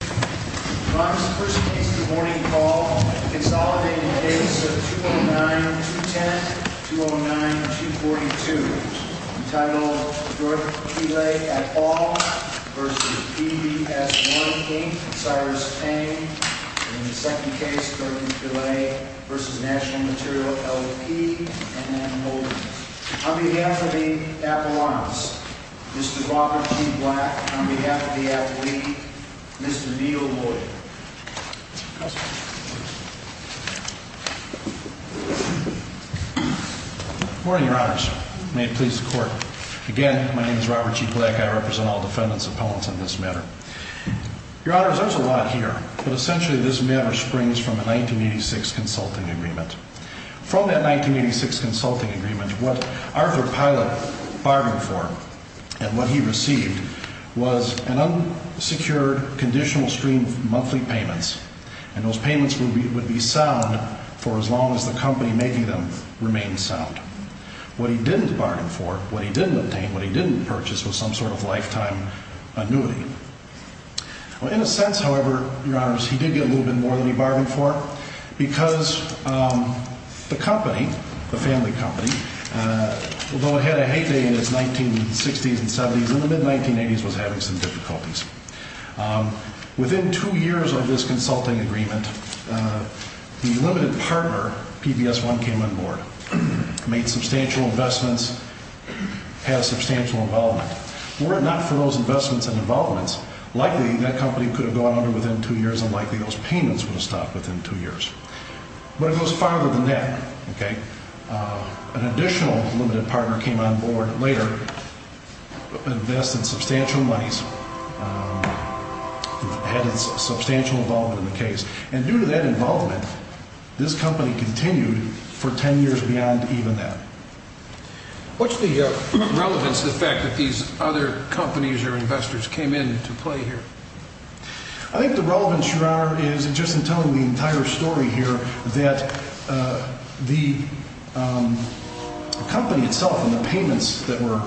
On behalf of the Appalachians, Mr. Robert G. Black, on behalf of the Appalachians, Mr. Robert G. Black, on behalf of the Appalachians, Mr. Neil Boyd. Good morning, your honors. May it please the court. Again, my name is Robert G. Black. I represent all defendants and appellants on this matter. Your honors, there's a lot here, but essentially this matter springs from a 1986 consulting agreement. From that 1986 consulting agreement, what Arthur Pielet bargained for and what he received was an unsecured conditional stream of monthly payments. And those payments would be sound for as long as the company making them remained sound. What he didn't bargain for, what he didn't obtain, what he didn't purchase was some sort of lifetime annuity. Well, in a sense, however, your honors, he did get a little bit more than he bargained for because the company, the family company, although it had a heyday in its 1960s and 70s, in the mid-1980s was having some difficulties. Within two years of this consulting agreement, the limited partner, PBS1, came on board, made substantial investments, had substantial involvement. Were it not for those investments and involvements, likely that company could have gone under within two years and likely those payments would have stopped within two years. But it goes farther than that. An additional limited partner came on board later, invested substantial monies, had substantial involvement in the case. And due to that involvement, this company continued for ten years beyond even that. What's the relevance to the fact that these other companies or investors came in to play here? I think the relevance, your honor, is just in telling the entire story here that the company itself and the payments that were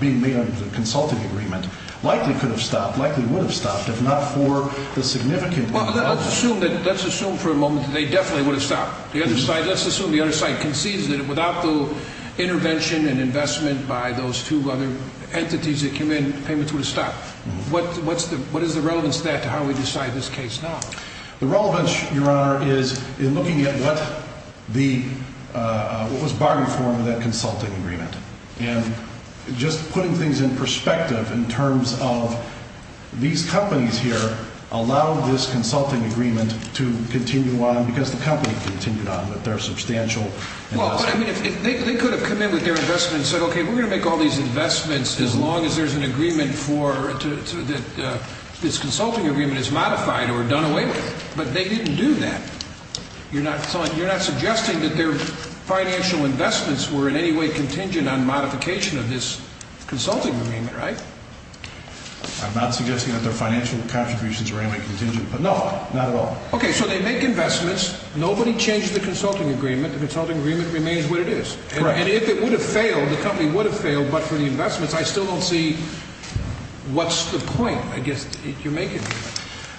being made under the consulting agreement likely could have stopped, likely would have stopped if not for the significant involvement. Let's assume for a moment that they definitely would have stopped. Let's assume the other side concedes that without the intervention and investment by those two other entities that came in, the payments would have stopped. What is the relevance of that to how we decide this case now? The relevance, your honor, is in looking at what was bargained for in that consulting agreement. And just putting things in perspective in terms of these companies here allowed this consulting agreement to continue on because the company continued on with their substantial investment. Well, I mean, they could have come in with their investment and said, okay, we're going to make all these investments as long as there's an agreement for this consulting agreement is modified or done away with. But they didn't do that. You're not suggesting that their financial investments were in any way contingent on modification of this consulting agreement, right? I'm not suggesting that their financial contributions were any way contingent, but no, not at all. Okay, so they make investments. Nobody changed the consulting agreement. The consulting agreement remains what it is. And if it would have failed, the company would have failed, but for the investments, I still don't see what's the point, I guess, if you make it.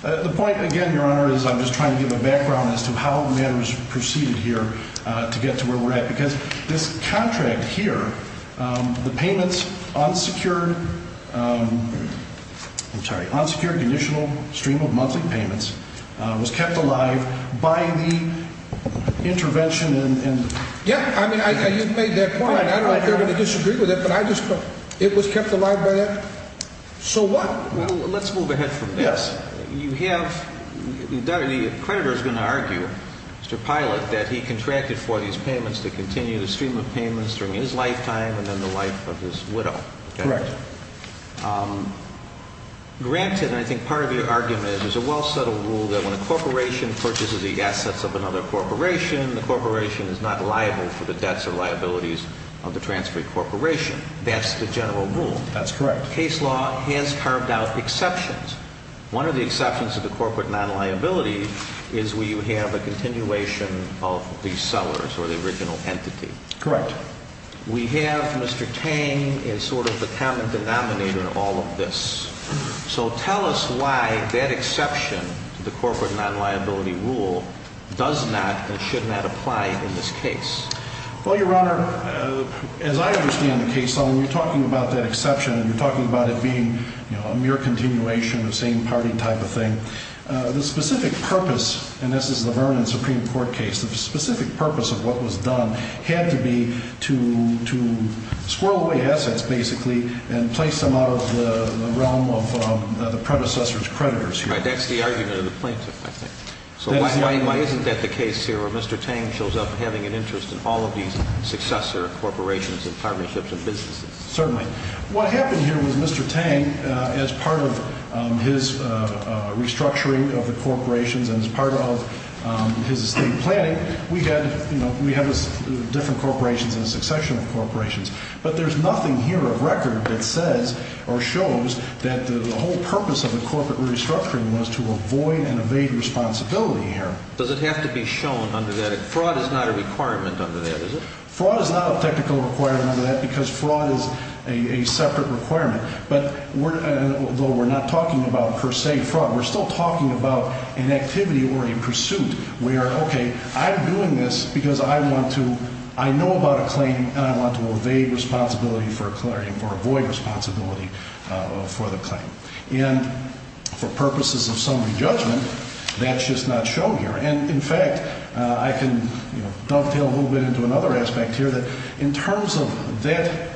The point, again, your honor, is I'm just trying to give a background as to how matters proceeded here to get to where we're at. Because this contract here, the payments unsecured, I'm sorry, unsecured conditional stream of monthly payments was kept alive by the intervention. Yeah, I mean, you've made that point. I don't know if you're going to disagree with it, but it was kept alive by that. So what? Well, let's move ahead from this. You have, the creditor's going to argue, Mr. Pilot, that he contracted for these payments to continue the stream of payments through his lifetime and then the life of his widow. Correct. Granted, and I think part of your argument is there's a well-settled rule that when a corporation purchases the assets of another corporation, the corporation is not liable for the debts or liabilities of the transferring corporation. That's the general rule. That's correct. But the case law has carved out exceptions. One of the exceptions to the corporate non-liability is where you have a continuation of the sellers or the original entity. Correct. We have Mr. Tang as sort of the common denominator in all of this. So tell us why that exception to the corporate non-liability rule does not and should not apply in this case. Well, Your Honor, as I understand the case law, when you're talking about that exception and you're talking about it being a mere continuation of same party type of thing, the specific purpose, and this is the Vernon Supreme Court case, the specific purpose of what was done had to be to squirrel away assets, basically, and place them out of the realm of the predecessor's creditors. Right. That's the argument of the plaintiff, I think. So why isn't that the case here where Mr. Tang shows up having an interest in all of these successor corporations and partnerships and businesses? Certainly. What happened here was Mr. Tang, as part of his restructuring of the corporations and as part of his estate planning, we had different corporations and a succession of corporations. But there's nothing here of record that says or shows that the whole purpose of the corporate restructuring was to avoid and evade responsibility here. Does it have to be shown under that? Fraud is not a requirement under that, is it? Fraud is not a technical requirement under that because fraud is a separate requirement. But though we're not talking about, per se, fraud, we're still talking about an activity or a pursuit where, okay, I'm doing this because I want to – I know about a claim and I want to evade responsibility for a claim or avoid responsibility for the claim. And for purposes of summary judgment, that's just not shown here. And, in fact, I can dovetail a little bit into another aspect here that in terms of that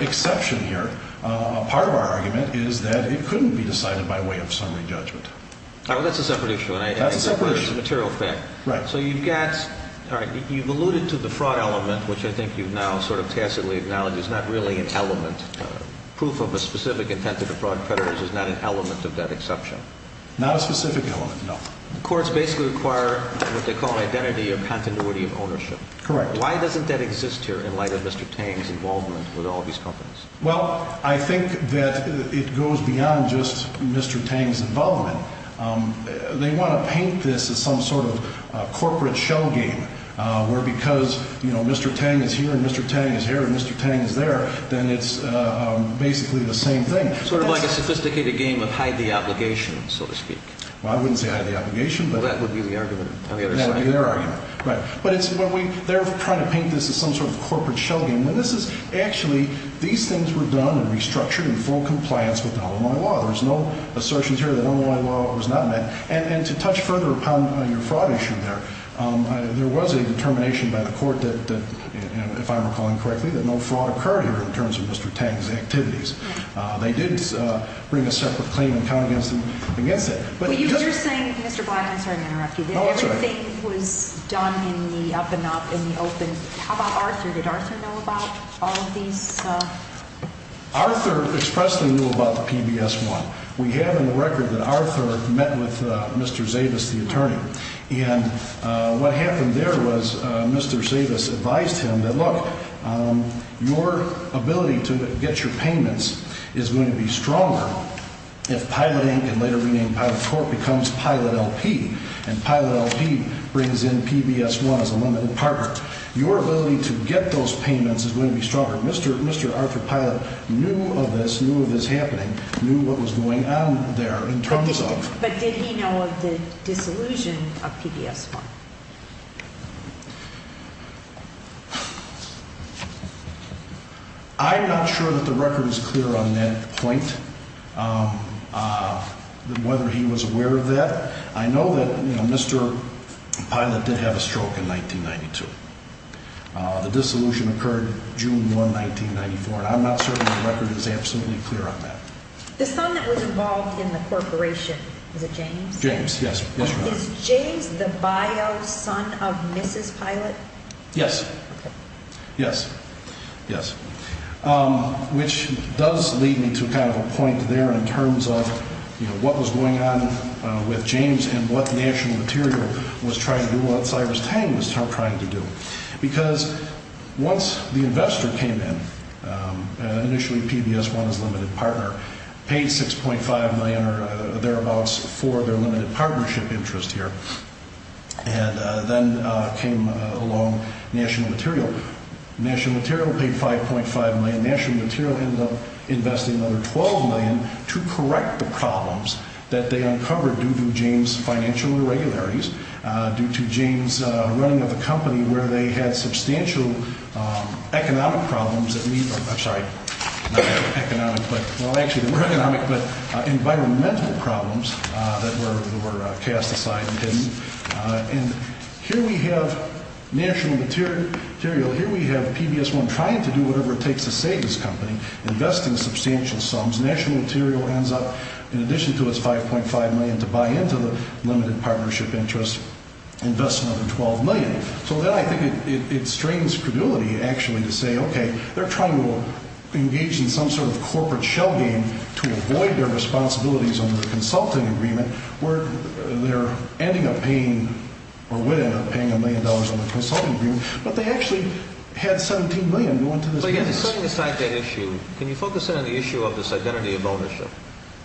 exception here, part of our argument is that it couldn't be decided by way of summary judgment. All right. Well, that's a separate issue. That's a separate issue. And I suppose it's a material fact. Right. So you've got – all right, you've alluded to the fraud element, which I think you've now sort of tacitly acknowledged is not really an element. Proof of a specific intent to defraud creditors is not an element of that exception. Not a specific element, no. Courts basically require what they call an identity or continuity of ownership. Correct. Why doesn't that exist here in light of Mr. Tang's involvement with all these companies? Well, I think that it goes beyond just Mr. Tang's involvement. They want to paint this as some sort of corporate shell game where because, you know, Mr. Tang is here and Mr. Tang is here and Mr. Tang is there, then it's basically the same thing. Sort of like a sophisticated game of hide the obligation, so to speak. Well, I wouldn't say hide the obligation. Well, that would be the argument on the other side. That would be their argument. Right. But it's what we – they're trying to paint this as some sort of corporate shell game. And this is actually – these things were done and restructured in full compliance with Illinois law. There's no assertions here that Illinois law was not met. And to touch further upon your fraud issue there, there was a determination by the court that, if I'm recalling correctly, that no fraud occurred here in terms of Mr. Tang's activities. They did bring a separate claim and count against it. Well, you're just saying, Mr. Black – I'm sorry to interrupt you. No, that's all right. Everything was done in the up and up, in the open. How about Arthur? Did Arthur know about all of these? Arthur expressly knew about the PBS-1. We have in the record that Arthur met with Mr. Zavis, the attorney. And what happened there was Mr. Zavis advised him that, look, your ability to get your payments is going to be stronger if Pilot Inc. and later renamed Pilot Corp. becomes Pilot LP, and Pilot LP brings in PBS-1 as a limited partner. Your ability to get those payments is going to be stronger. Mr. Arthur Pilot knew of this, knew of this happening, knew what was going on there in terms of – But did he know of the disillusion of PBS-1? I'm not sure that the record is clear on that point, whether he was aware of that. I know that Mr. Pilot did have a stroke in 1992. The dissolution occurred June 1, 1994, and I'm not certain the record is absolutely clear on that. The son that was involved in the corporation, was it James? James, yes. Is James the bio son of Mrs. Pilot? Yes. Yes. Yes. Which does lead me to kind of a point there in terms of, you know, what was going on with James and what National Material was trying to do, what Cyrus Tang was trying to do. Because once the investor came in, initially PBS-1 as a limited partner, paid $6.5 million or thereabouts for their limited partnership interest here, and then came along National Material. National Material paid $5.5 million. National Material ended up investing another $12 million to correct the problems that they uncovered due to James' financial irregularities, due to James' running of the company where they had substantial economic problems that – I'm sorry, not economic, but – well, actually, they were economic, but environmental problems that were cast aside and hidden. And here we have National Material. Here we have PBS-1 trying to do whatever it takes to save this company, investing substantial sums. National Material ends up, in addition to its $5.5 million to buy into the limited partnership interest, investing another $12 million. So then I think it strains credulity, actually, to say, okay, they're trying to engage in some sort of corporate shell game to avoid their responsibilities under the consulting agreement where they're ending up paying – or would end up paying $1 million in the consulting agreement, but they actually had $17 million going to this company. But again, setting aside that issue, can you focus in on the issue of this identity of ownership?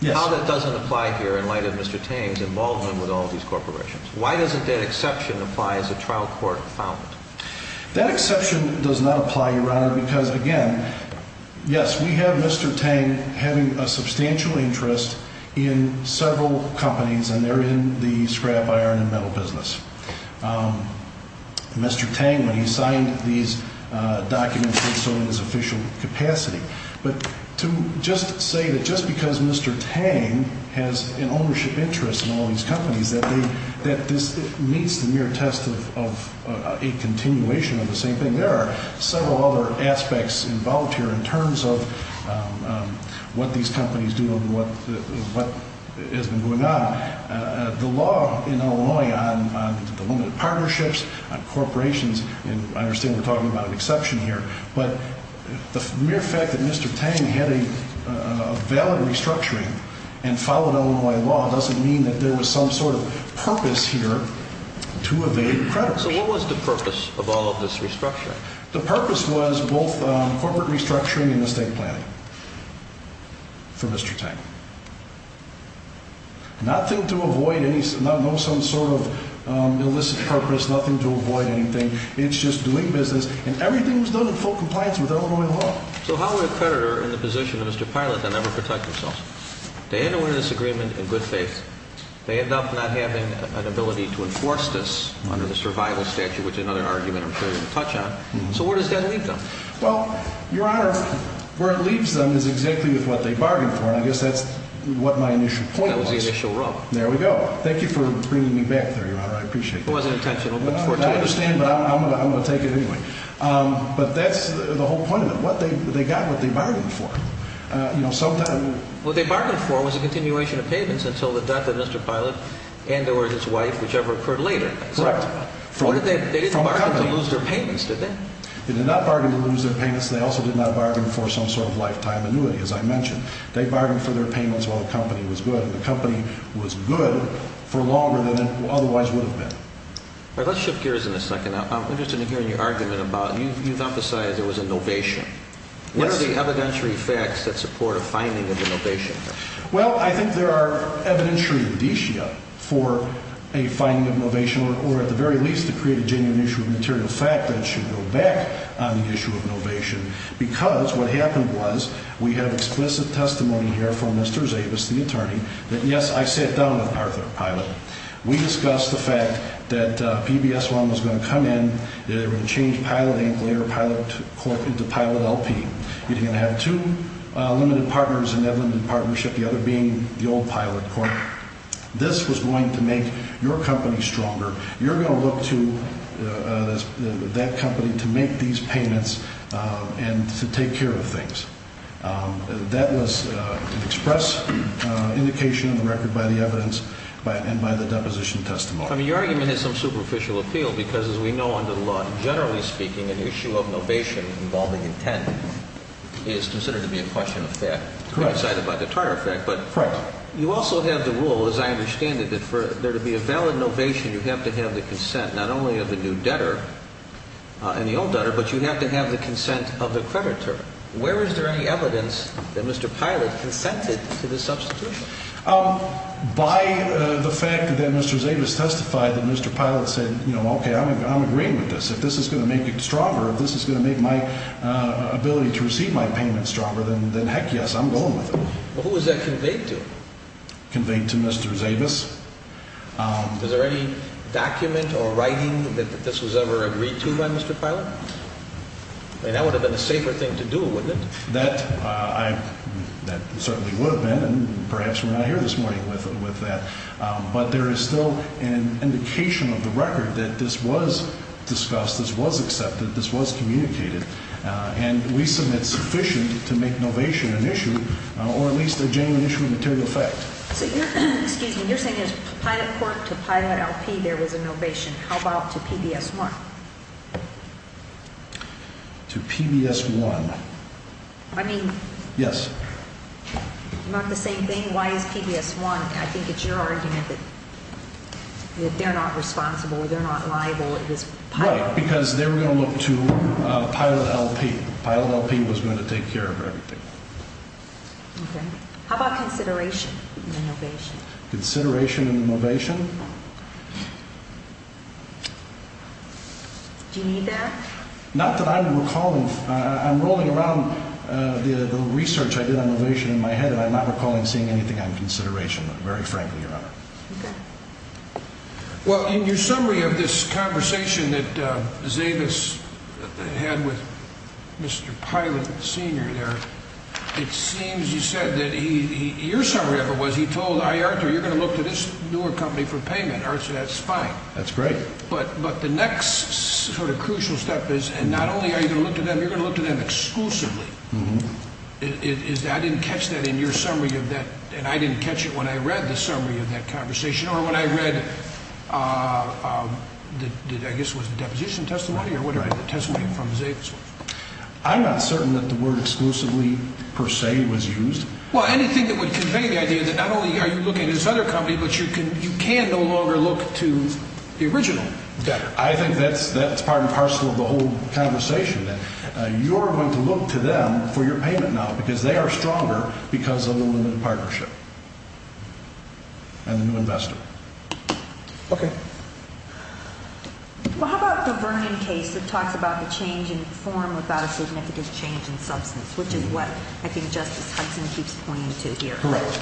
Yes. How that doesn't apply here in light of Mr. Tang's involvement with all these corporations. Why doesn't that exception apply as a trial court found? That exception does not apply, Your Honor, because, again, yes, we have Mr. Tang having a substantial interest in several companies, and they're in the scrap iron and metal business. Mr. Tang, when he signed these documents, did so in his official capacity. But to just say that just because Mr. Tang has an ownership interest in all these companies that this meets the mere test of a continuation of the same thing. There are several other aspects involved here in terms of what these companies do and what has been going on. The law in Illinois on the limited partnerships, on corporations, and I understand we're talking about an exception here, but the mere fact that Mr. Tang had a valid restructuring and followed Illinois law doesn't mean that there was some sort of purpose here to evade credit. So what was the purpose of all of this restructuring? The purpose was both corporate restructuring and estate planning for Mr. Tang. Nothing to avoid, no some sort of illicit purpose, nothing to avoid anything. It's just doing business, and everything was done in full compliance with Illinois law. So how would a creditor in the position of Mr. Pilot then ever protect himself? They end up winning this agreement in good faith. They end up not having an ability to enforce this under the survival statute, which is another argument I'm sure you'll touch on. So where does that leave them? Well, Your Honor, where it leaves them is exactly with what they bargained for, and I guess that's what my initial point was. That was the initial rub. There we go. Thank you for bringing me back there, Your Honor. I appreciate it. It wasn't intentional, but fortuitous. I understand, but I'm going to take it anyway. But that's the whole point of it. They got what they bargained for. What they bargained for was a continuation of payments until the death of Mr. Pilot and or his wife, whichever occurred later. Correct. They didn't bargain to lose their payments, did they? They did not bargain to lose their payments. They also did not bargain for some sort of lifetime annuity, as I mentioned. They bargained for their payments while the company was good, and the company was good for longer than it otherwise would have been. All right, let's shift gears in a second. I'm interested in hearing your argument about you've emphasized there was a novation. What are the evidentiary facts that support a finding of a novation? Well, I think there are evidentiary judicia for a finding of novation, or at the very least to create a genuine issue of material fact that should go back on the issue of novation because what happened was we have explicit testimony here from Mr. Zavis, the attorney, that, yes, I sat down with Arthur Pilot. We discussed the fact that PBS1 was going to come in, that they were going to change Pilot Inc., later Pilot Corp., into Pilot LP. You're going to have two limited partners in that limited partnership, the other being the old Pilot Corp. This was going to make your company stronger. You're going to look to that company to make these payments and to take care of things. That was an express indication of the record by the evidence and by the deposition testimony. Well, your argument has some superficial appeal because, as we know under the law, generally speaking, an issue of novation involving intent is considered to be a question of fact, coincided by the Tartar effect. But you also have the rule, as I understand it, that for there to be a valid novation, you have to have the consent not only of the new debtor and the old debtor, but you have to have the consent of the creditor. Where is there any evidence that Mr. Pilot consented to the substitution? By the fact that Mr. Zavis testified that Mr. Pilot said, you know, okay, I'm agreeing with this. If this is going to make it stronger, if this is going to make my ability to receive my payments stronger, then heck yes, I'm going with it. Who was that conveyed to? Conveyed to Mr. Zavis. Was there any document or writing that this was ever agreed to by Mr. Pilot? That would have been a safer thing to do, wouldn't it? That certainly would have been, and perhaps we're not here this morning with that. But there is still an indication of the record that this was discussed, this was accepted, this was communicated, and we submit sufficient to make novation an issue or at least a genuine issue of material effect. So you're saying as Pilot Corp to Pilot RP there was a novation. How about to PBS 1? To PBS 1. I mean. Yes. Not the same thing? Why is PBS 1? I think it's your argument that they're not responsible, they're not liable, it was Pilot. Right, because they were going to look to Pilot LP. Pilot LP was going to take care of everything. Okay. How about consideration in the novation? Consideration in the novation? Do you need that? Not that I'm recalling. I'm rolling around the research I did on novation in my head, and I'm not recalling seeing anything on consideration, very frankly, Your Honor. Okay. Well, in your summary of this conversation that Zavis had with Mr. Pilot Sr. there, it seems you said that he, your summary of it was he told IARTOR, you're going to look to this newer company for payment, so that's fine. That's great. But the next sort of crucial step is, and not only are you going to look to them, you're going to look to them exclusively. I didn't catch that in your summary of that, and I didn't catch it when I read the summary of that conversation or when I read, I guess it was the deposition testimony or whatever, the testimony from Zavis. I'm not certain that the word exclusively, per se, was used. Well, anything that would convey the idea that not only are you looking at this other company, but you can no longer look to the original debtor. I think that's part and parcel of the whole conversation, that you're going to look to them for your payment now because they are stronger because of the limited partnership and the new investor. Okay. Well, how about the Vernon case that talks about the change in form without a significant change in substance, which is what I think Justice Hudson keeps pointing to here. Correct.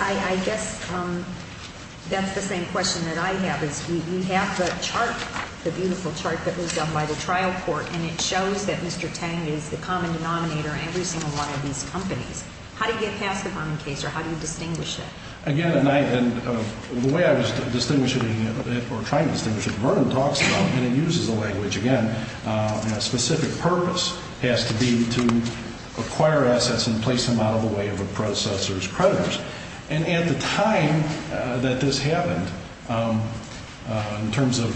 I guess that's the same question that I have, is we have the chart, the beautiful chart that was done by the trial court, and it shows that Mr. Tang is the common denominator in every single one of these companies. How do you get past the Vernon case, or how do you distinguish it? Again, the way I was trying to distinguish it, and it uses a language, again, and a specific purpose has to be to acquire assets and place them out of the way of a predecessor's creditors. And at the time that this happened, in terms of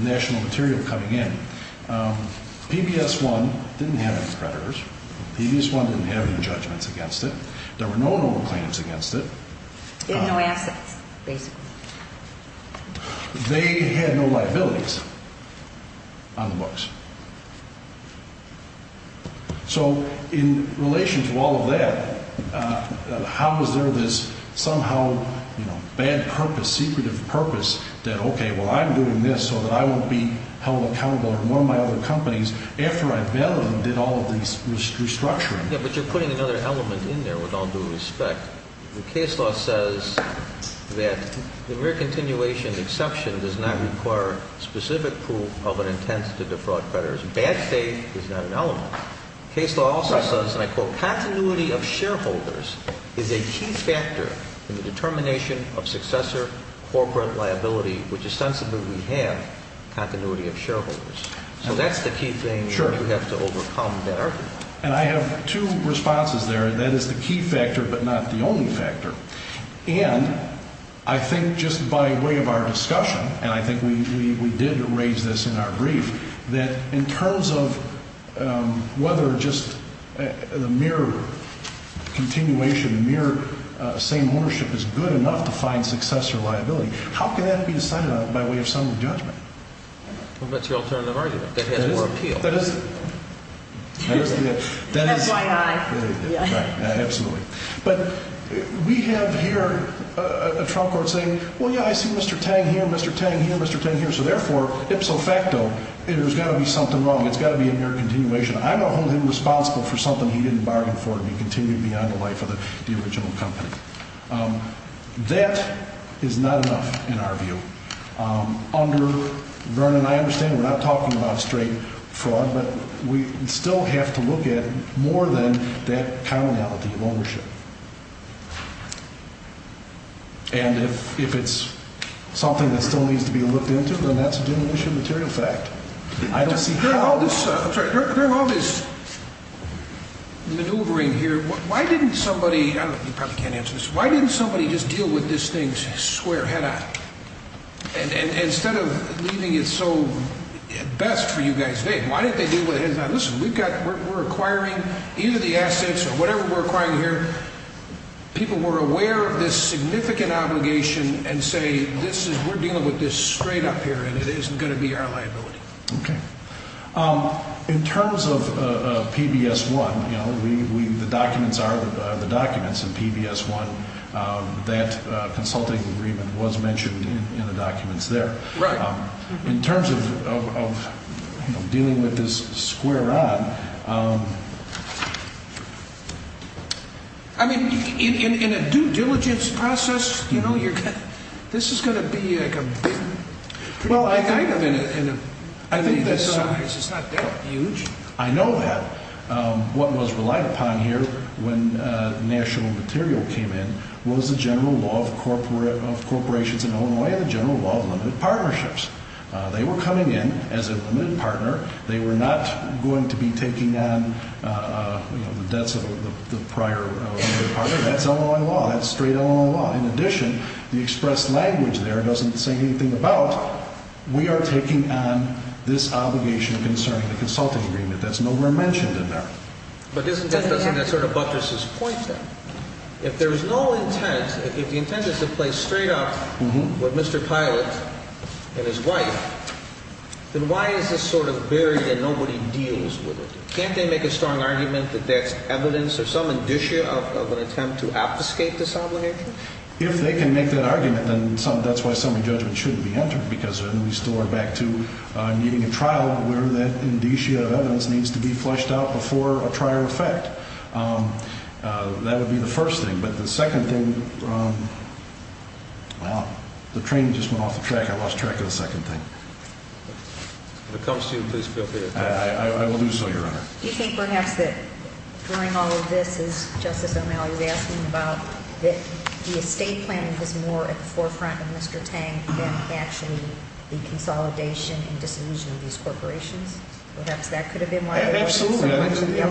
national material coming in, PBS-1 didn't have any creditors. PBS-1 didn't have any judgments against it. There were no noble claims against it. They had no assets, basically. They had no liabilities on the books. So in relation to all of that, how was there this somehow bad purpose, secretive purpose, that, okay, well, I'm doing this so that I won't be held accountable to one of my other companies after I bailed them and did all of this restructuring? Yeah, but you're putting another element in there with all due respect. The case law says that the mere continuation of the exception does not require specific proof of an intent to defraud creditors. Bad faith is not an element. The case law also says, and I quote, continuity of shareholders is a key factor in the determination of successor corporate liability, which ostensibly we have continuity of shareholders. So that's the key thing we have to overcome there. And I have two responses there. That is the key factor but not the only factor. And I think just by way of our discussion, and I think we did raise this in our brief, that in terms of whether just the mere continuation, the mere same ownership is good enough to find successor liability, how can that be decided on by way of some judgment? Well, that's your alternative argument. That has more appeal. FYI. Absolutely. But we have here a trial court saying, well, yeah, I see Mr. Tang here, Mr. Tang here, Mr. Tang here, so therefore, ipso facto, there's got to be something wrong. It's got to be a mere continuation. I'm going to hold him responsible for something he didn't bargain for and he continued beyond the life of the original company. That is not enough in our view. Under Vernon, I understand we're not talking about straight fraud, but we still have to look at more than that commonality of ownership. And if it's something that still needs to be looked into, then that's a diminution of material fact. I don't see how. During all this maneuvering here, why didn't somebody, you probably can't answer this, why didn't somebody just deal with this thing square head-on? Instead of leaving it so at best for you guys, why didn't they deal with it head-on? Listen, we're acquiring either the assets or whatever we're acquiring here. People were aware of this significant obligation and say, we're dealing with this straight up here and it isn't going to be our liability. Okay. In terms of PBS-1, the documents are the documents, and PBS-1, that consulting agreement was mentioned in the documents there. In terms of dealing with this square on, I mean, in a due diligence process, this is going to be like a big, kind of in a, in a size. It's not that huge. I know that. What was relied upon here when national material came in was the general law of corporations in Illinois and the general law of limited partnerships. They were coming in as a limited partner. They were not going to be taking on the debts of the prior limited partner. That's Illinois law. That's straight Illinois law. In addition, the expressed language there doesn't say anything about, we are taking on this obligation concerning the consulting agreement. That's nowhere mentioned in there. But isn't that sort of buttresses point then? If there is no intent, if the intent is to play straight up with Mr. Pilot and his wife, then why is this sort of buried and nobody deals with it? Can't they make a strong argument that that's evidence or some indicia of an attempt to obfuscate this obligation? If they can make that argument, then that's why summary judgment shouldn't be entered, because then we still are back to needing a trial where that indicia of evidence needs to be flushed out before a trial effect. That would be the first thing. But the second thing, well, the train just went off the track. I lost track of the second thing. If it comes to you, please feel free to correct me. I will do so, Your Honor. Do you think perhaps that during all of this, as Justice O'Malley was asking about, that the estate planning was more at the forefront of Mr. Tang than actually the consolidation and disillusion of these corporations? Perhaps that could have been why- Absolutely.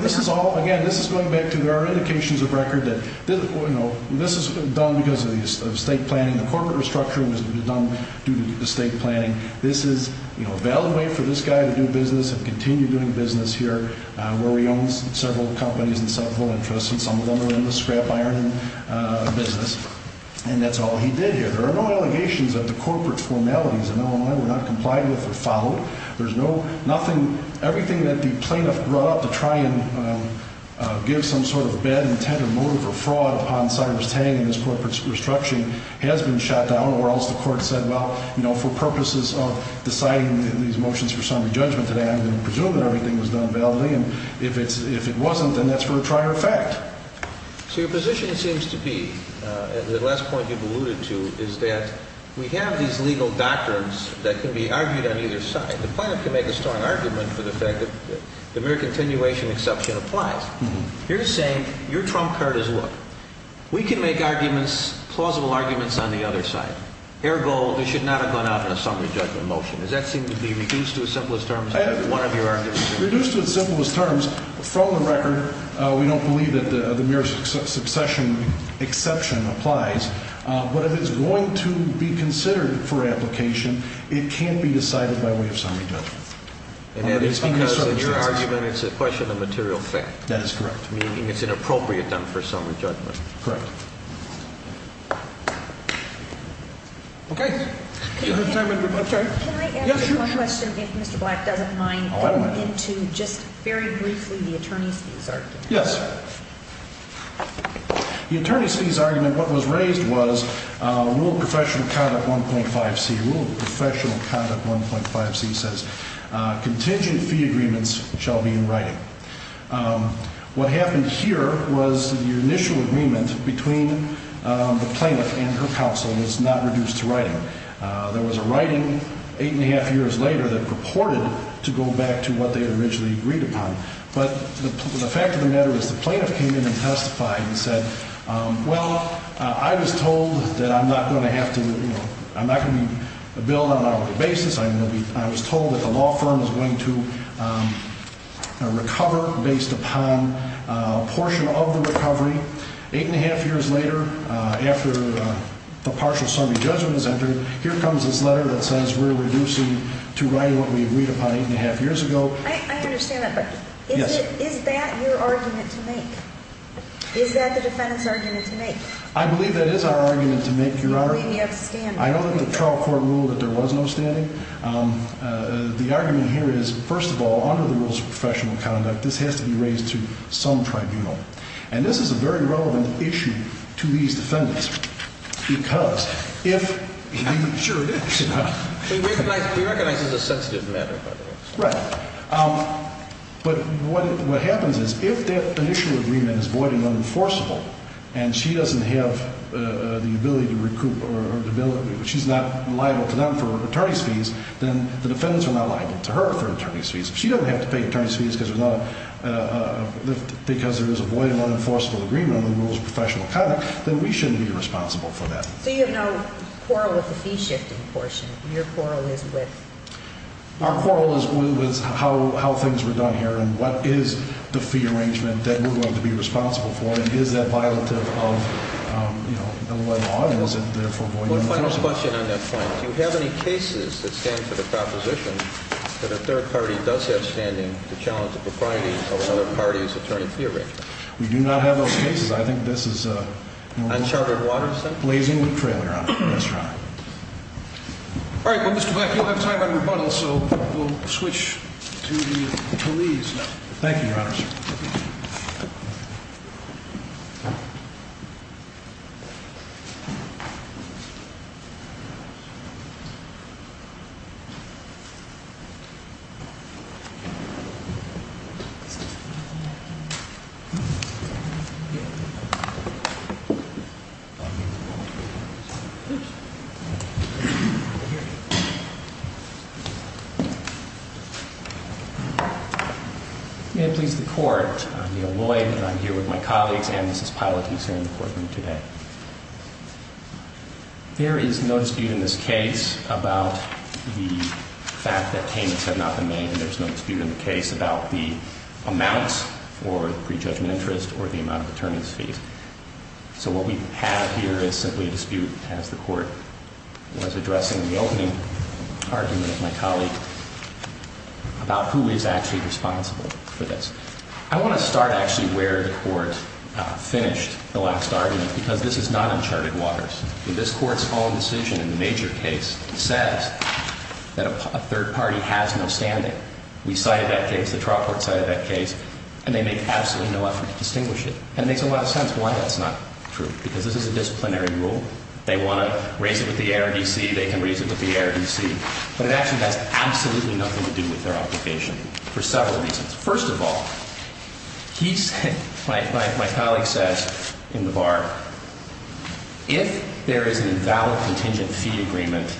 This is all, again, this is going back to there are indications of record that this is done because of the estate planning. The corporate restructuring was done due to the estate planning. This is a valid way for this guy to do business and continue doing business here, where he owns several companies and several interests, and some of them are in the scrap iron business. And that's all he did here. There are no allegations of the corporate formalities in Illinois were not complied with or followed. There's no nothing, everything that the plaintiff brought up to try and give some sort of bad intent or motive or fraud upon Cyrus Tang and his corporate restructuring has been shot down, or else the court said, well, for purposes of deciding these motions for summary judgment today, I'm going to presume that everything was done validly. And if it wasn't, then that's for the trier of fact. So your position seems to be, the last point you've alluded to, is that we have these legal doctrines that can be argued on either side. The plaintiff can make a strong argument for the fact that the mere continuation exception applies. You're saying your trump card is, look, we can make arguments, plausible arguments, on the other side. Ergo, they should not have gone out in a summary judgment motion. Does that seem to be reduced to the simplest terms? Reduced to the simplest terms, from the record, we don't believe that the mere succession exception applies. But if it's going to be considered for application, it can't be decided by way of summary judgment. And that is because in your argument, it's a question of material fact. That is correct. Meaning it's inappropriate then for summary judgment. Correct. Okay. Can I ask you one question, if Mr. Black doesn't mind, going into just very briefly the attorney's fees argument. Yes. The attorney's fees argument, what was raised was Rule of Professional Conduct 1.5C. Rule of Professional Conduct 1.5C says, contingent fee agreements shall be in writing. What happened here was the initial agreement between the plaintiff and her counsel was not reduced to writing. There was a writing eight and a half years later that purported to go back to what they had originally agreed upon. But the fact of the matter is the plaintiff came in and testified and said, well, I was told that I'm not going to have to, you know, I'm not going to be billed on an hourly basis. I was told that the law firm was going to recover based upon a portion of the recovery. Eight and a half years later, after the partial summary judgment was entered, here comes this letter that says we're reducing to writing what we agreed upon eight and a half years ago. I understand that, but is that your argument to make? Is that the defendant's argument to make? I believe that is our argument to make, Your Honor. You believe me upstanding. I know that the trial court ruled that there was no standing. The argument here is, first of all, under the rules of professional conduct, this has to be raised to some tribunal. And this is a very relevant issue to these defendants because if you- Sure it is. We recognize it's a sensitive matter, by the way. Right. But what happens is if that initial agreement is void and unenforceable, and she doesn't have the ability to recoup or she's not liable to them for attorney's fees, then the defendants are not liable to her for attorney's fees. If she doesn't have to pay attorney's fees because there is a void and unenforceable agreement under the rules of professional conduct, then we shouldn't be responsible for that. So you have no quarrel with the fee-shifting portion? Your quarrel is with- Our quarrel is with how things were done here and what is the fee arrangement that we're going to be responsible for, and is that violative of Illinois law and is it therefore void and unenforceable? Final question on that point. Do you have any cases that stand for the proposition that a third party does have standing to challenge the propriety of another party's attorney fee arrangement? We do not have those cases. I think this is a- Unchartered waters, then? Blazing the trailer on it, Yes, Your Honor. All right, well, Mr. Black, you don't have time for rebuttals, so we'll switch to the attorneys now. Thank you, Your Honor. May it please the Court, I'm Neal Lloyd, and I'm here with my colleagues, and Mrs. Pilot, who's here in the courtroom today. There is no dispute in this case about the fact that payments have not been made, and there's no dispute in the case about the amounts for pre-judgment interest or the amount of attorneys' fees. So what we have here is simply a dispute, as the Court was addressing, in the opening argument of my colleague, about who is actually responsible for this. I want to start, actually, where the Court finished the last argument, because this is not uncharted waters. In this Court's own decision in the major case, it says that a third party has no standing. We cited that case, the trial court cited that case, and they make absolutely no effort to distinguish it. And it makes a lot of sense why that's not true, because this is a disciplinary rule. They want to raise it with the ARDC. They can raise it with the ARDC. But it actually has absolutely nothing to do with their application for several reasons. First of all, my colleague says in the bar, if there is an invalid contingent fee agreement,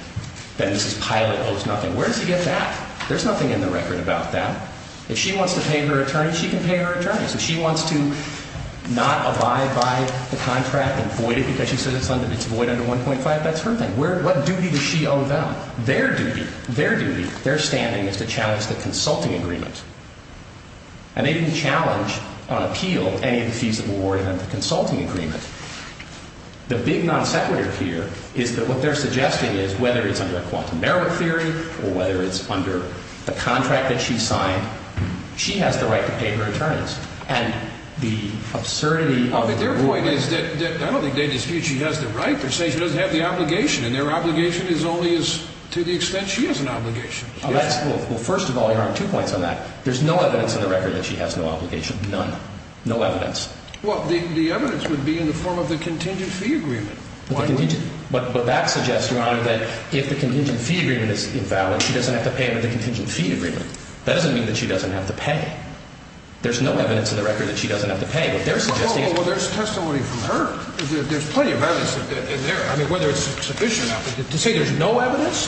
then Mrs. Pilot owes nothing. Where does he get that? There's nothing in the record about that. If she wants to pay her attorney, she can pay her attorney. If she wants to not abide by the contract and void it because she says it's void under 1.5, that's her thing. What duty does she owe them? Their duty, their duty, their standing is to challenge the consulting agreement. And they didn't challenge or appeal any of the fees that were awarded under the consulting agreement. The big non sequitur here is that what they're suggesting is, whether it's under a quantum merit theory or whether it's under the contract that she signed, she has the right to pay her attorneys. And the absurdity of their point is that I don't think they dispute she has the right to say she doesn't have the obligation. And their obligation is only to the extent she has an obligation. Well, first of all, you're on two points on that. There's no evidence in the record that she has no obligation. None. No evidence. Well, the evidence would be in the form of the contingent fee agreement. But that suggests, Your Honor, that if the contingent fee agreement is invalid, she doesn't have to pay under the contingent fee agreement. That doesn't mean that she doesn't have to pay. There's no evidence in the record that she doesn't have to pay. What they're suggesting is – Well, there's testimony from her. There's plenty of evidence in there. I mean, whether it's sufficient to say there's no evidence.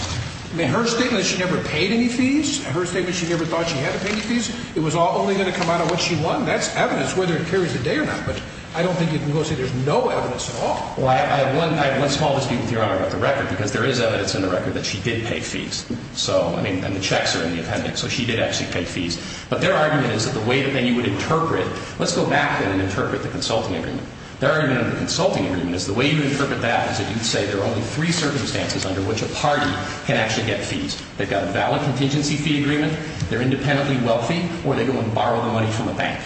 I mean, her statement that she never paid any fees, her statement she never thought she had to pay any fees, it was all only going to come out of what she won. That's evidence, whether it carries a day or not. But I don't think you can go and say there's no evidence at all. Well, I have one small dispute with Your Honor about the record, because there is evidence in the record that she did pay fees. So, I mean, and the checks are in the appendix. So she did actually pay fees. But their argument is that the way that you would interpret – Let's go back, then, and interpret the consulting agreement. Their argument under the consulting agreement is the way you would interpret that is that you'd say there are only three circumstances under which a party can actually get fees. They've got a valid contingency fee agreement, they're independently wealthy, or they go and borrow the money from a bank.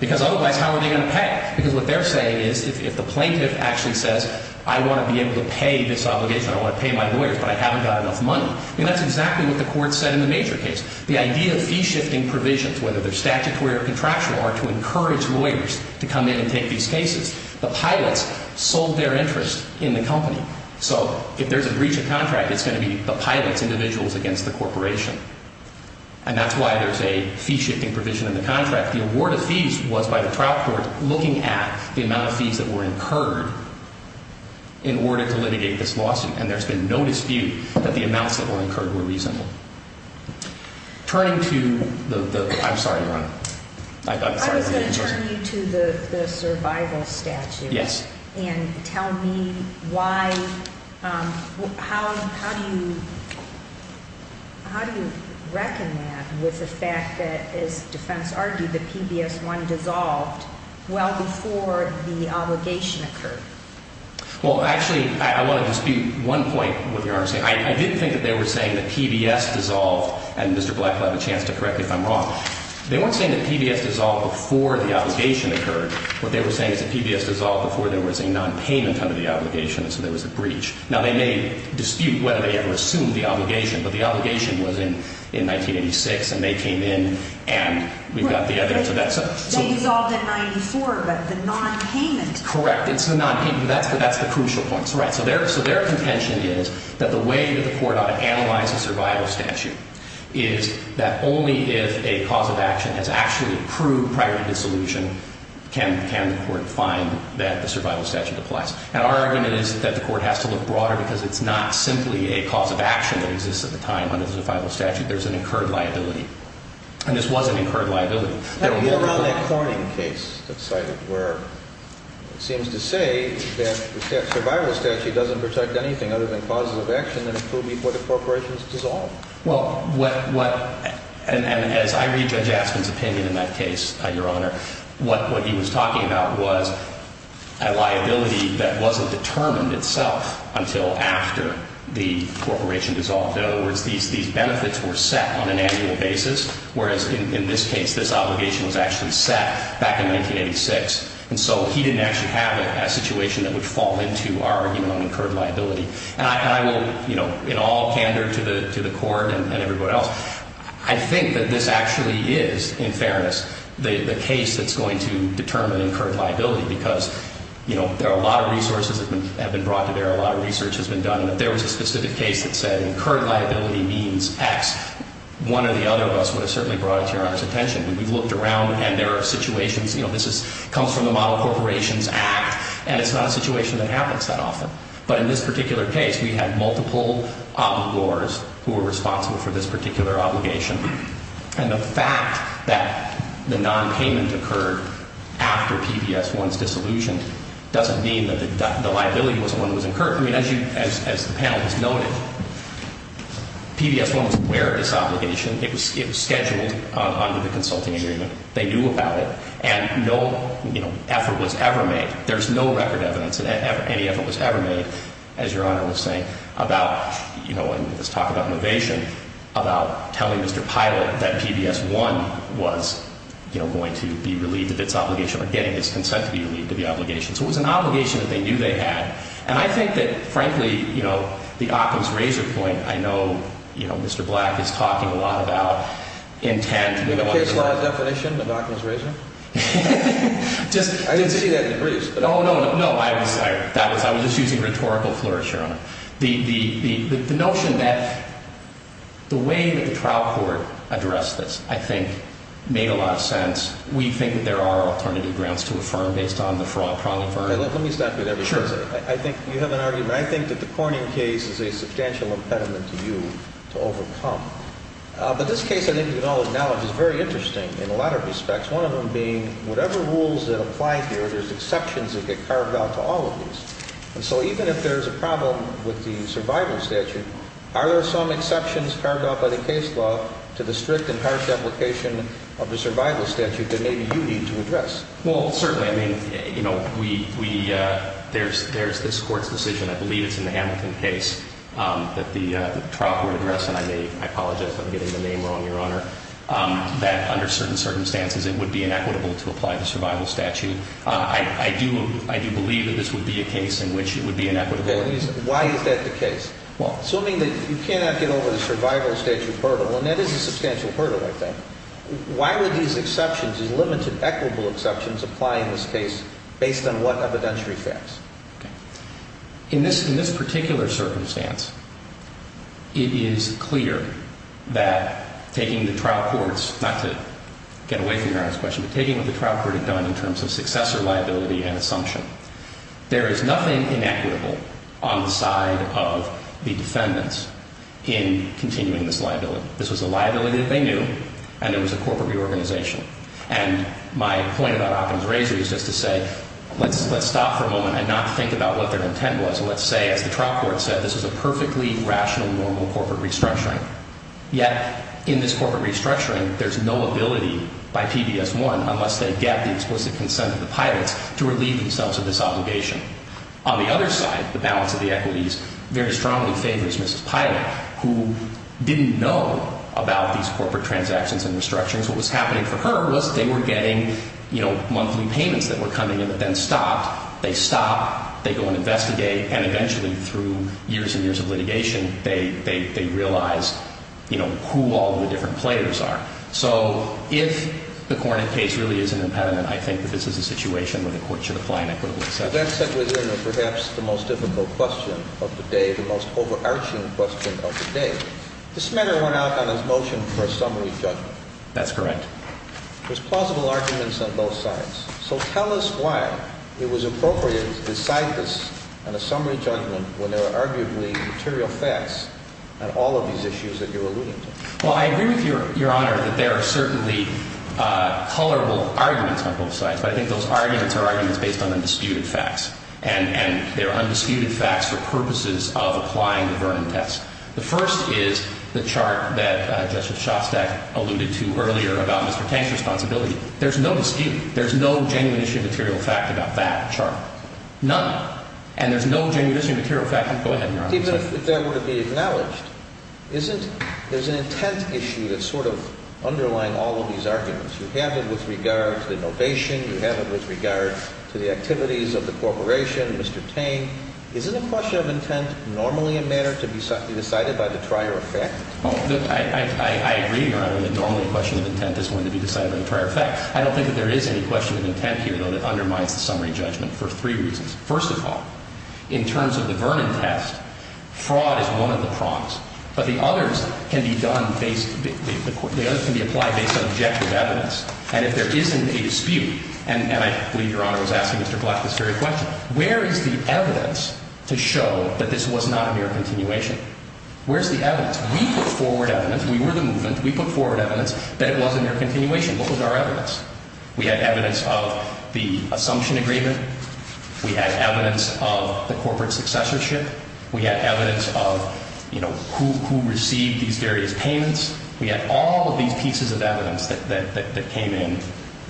Because otherwise, how are they going to pay? Because what they're saying is if the plaintiff actually says, I want to be able to pay this obligation, I want to pay my lawyers, but I haven't got enough money. I mean, that's exactly what the court said in the major case. The idea of fee-shifting provisions, whether they're statutory or contractual, are to encourage lawyers to come in and take these cases. The pilots sold their interest in the company. So if there's a breach of contract, it's going to be the pilots, individuals against the corporation. And that's why there's a fee-shifting provision in the contract. The award of fees was by the trial court looking at the amount of fees that were incurred in order to litigate this lawsuit. And there's been no dispute that the amounts that were incurred were reasonable. Turning to the – I'm sorry, Your Honor. I'm sorry. I was going to turn you to the survival statute. Yes. And tell me why – how do you – how do you reckon that with the fact that, as defense argued, the PBS-1 dissolved well before the obligation occurred? Well, actually, I want to dispute one point with Your Honor. I didn't think that they were saying that PBS dissolved – and Mr. Blackwell, I have a chance to correct you if I'm wrong. They weren't saying that PBS dissolved before the obligation occurred. What they were saying is that PBS dissolved before there was a nonpayment under the obligation, and so there was a breach. Now, they may dispute whether they ever assumed the obligation, but the obligation was in 1986, and they came in, and we've got the evidence of that. They dissolved in 1994, but the nonpayment – Correct. It's the nonpayment, but that's the crucial point. So their contention is that the way that the court ought to analyze a survival statute is that only if a cause of action has actually proved prior to dissolution can the court find that the survival statute applies. And our argument is that the court has to look broader because it's not simply a cause of action that exists at the time under the survival statute. There's an incurred liability, and this was an incurred liability. How about that Corning case that's cited where it seems to say that the survival statute doesn't protect anything other than causes of action that have proved before the corporation is dissolved? Well, what – and as I read Judge Aspin's opinion in that case, Your Honor, what he was talking about was a liability that wasn't determined itself until after the corporation dissolved. In other words, these benefits were set on an annual basis, whereas in this case, this obligation was actually set back in 1986. And so he didn't actually have a situation that would fall into our argument on incurred liability. And I will, you know, in all candor to the court and everybody else, I think that this actually is, in fairness, the case that's going to determine incurred liability because, you know, there are a lot of resources that have been brought to bear. A lot of research has been done that there was a specific case that said incurred liability means X. One or the other of us would have certainly brought it to Your Honor's attention. We've looked around, and there are situations – you know, this is – comes from the Model Corporations Act, and it's not a situation that happens that often. But in this particular case, we had multiple obligors who were responsible for this particular obligation. And the fact that the nonpayment occurred after PBS-1's dissolution doesn't mean that the liability was one that was incurred. I mean, as you – as the panel has noted, PBS-1 was aware of this obligation. It was scheduled under the consulting agreement. They knew about it, and no, you know, effort was ever made. There's no record evidence that any effort was ever made, as Your Honor was saying, about – you know, in this talk about innovation, about telling Mr. Pilot that PBS-1 was, you know, going to be relieved of its obligation or getting its consent to be relieved of the obligation. So it was an obligation that they knew they had. And I think that, frankly, you know, the Occam's razor point – I know, you know, Mr. Black is talking a lot about intent. The case law definition of Occam's razor? I didn't see that in the briefs. Oh, no, no. That was – I was just using rhetorical flourish, Your Honor. The notion that – the way that the trial court addressed this, I think, made a lot of sense. We think that there are alternative grounds to affirm based on the fraud problem. Let me stop you there. Sure. I think you have an argument. I think that the Corning case is a substantial impediment to you to overcome. That's one of them being whatever rules that apply here, there's exceptions that get carved out to all of these. And so even if there's a problem with the survival statute, are there some exceptions carved out by the case law to the strict and harsh application of the survival statute that maybe you need to address? Well, certainly. I mean, you know, we – there's this Court's decision. I believe it's in the Hamilton case that the trial court addressed – and I may – I apologize if I'm getting the name wrong, Your Honor – that under certain circumstances it would be inequitable to apply the survival statute. I do believe that this would be a case in which it would be inequitable. Okay. Why is that the case? Well – Assuming that you cannot get over the survival statute hurdle, and that is a substantial hurdle, I think, why would these exceptions, these limited equitable exceptions apply in this case based on what evidentiary facts? Okay. In this particular circumstance, it is clear that taking the trial court's – not to get away from Your Honor's question, but taking what the trial court had done in terms of successor liability and assumption, there is nothing inequitable on the side of the defendants in continuing this liability. This was a liability that they knew, and it was a corporate reorganization. And my point about Oppen's razor is just to say, let's stop for a moment and not think about what their intent was. And let's say, as the trial court said, this is a perfectly rational, normal corporate restructuring. Yet, in this corporate restructuring, there's no ability by PBS1, unless they get the explicit consent of the pilots, to relieve themselves of this obligation. On the other side, the balance of the equities very strongly favors Mrs. Pilot, who didn't know about these corporate transactions and restructurings. What was happening for her was they were getting, you know, monthly payments that were coming in, but then stopped. They stop, they go and investigate, and eventually, through years and years of litigation, they realize, you know, who all the different players are. So, if the Cornett case really is an impediment, I think that this is a situation where the court should apply an equitable exception. Now, that said, within perhaps the most difficult question of the day, the most overarching question of the day, this matter went out on a motion for a summary judgment. That's correct. There's plausible arguments on both sides. So, tell us why it was appropriate to decide this on a summary judgment when there are arguably material facts on all of these issues that you're alluding to. Well, I agree with Your Honor that there are certainly colorable arguments on both sides, but I think those arguments are arguments based on undisputed facts, and they're undisputed facts for purposes of applying the Vernon test. The first is the chart that Justice Shostak alluded to earlier about Mr. Tank's responsibility. There's no dispute. There's no genuine issue of material fact about that chart. None. And there's no genuine issue of material fact. Go ahead, Your Honor. Even if that were to be acknowledged, isn't there's an intent issue that's sort of underlying all of these arguments. You have it with regard to innovation. You have it with regard to the activities of the corporation, Mr. Tank. Isn't a question of intent normally a matter to be decided by the prior effect? Look, I agree, Your Honor, that normally a question of intent is one to be decided by the prior effect. I don't think that there is any question of intent here, though, that undermines the summary judgment for three reasons. First of all, in terms of the Vernon test, fraud is one of the prongs. But the others can be applied based on objective evidence. And if there isn't a dispute, and I believe Your Honor was asking Mr. Black this very question, where is the evidence to show that this was not a mere continuation? Where's the evidence? We put forward evidence. We were the movement. We put forward evidence that it was a mere continuation. What was our evidence? We had evidence of the assumption agreement. We had evidence of the corporate successorship. We had evidence of, you know, who received these various payments. We had all of these pieces of evidence that came in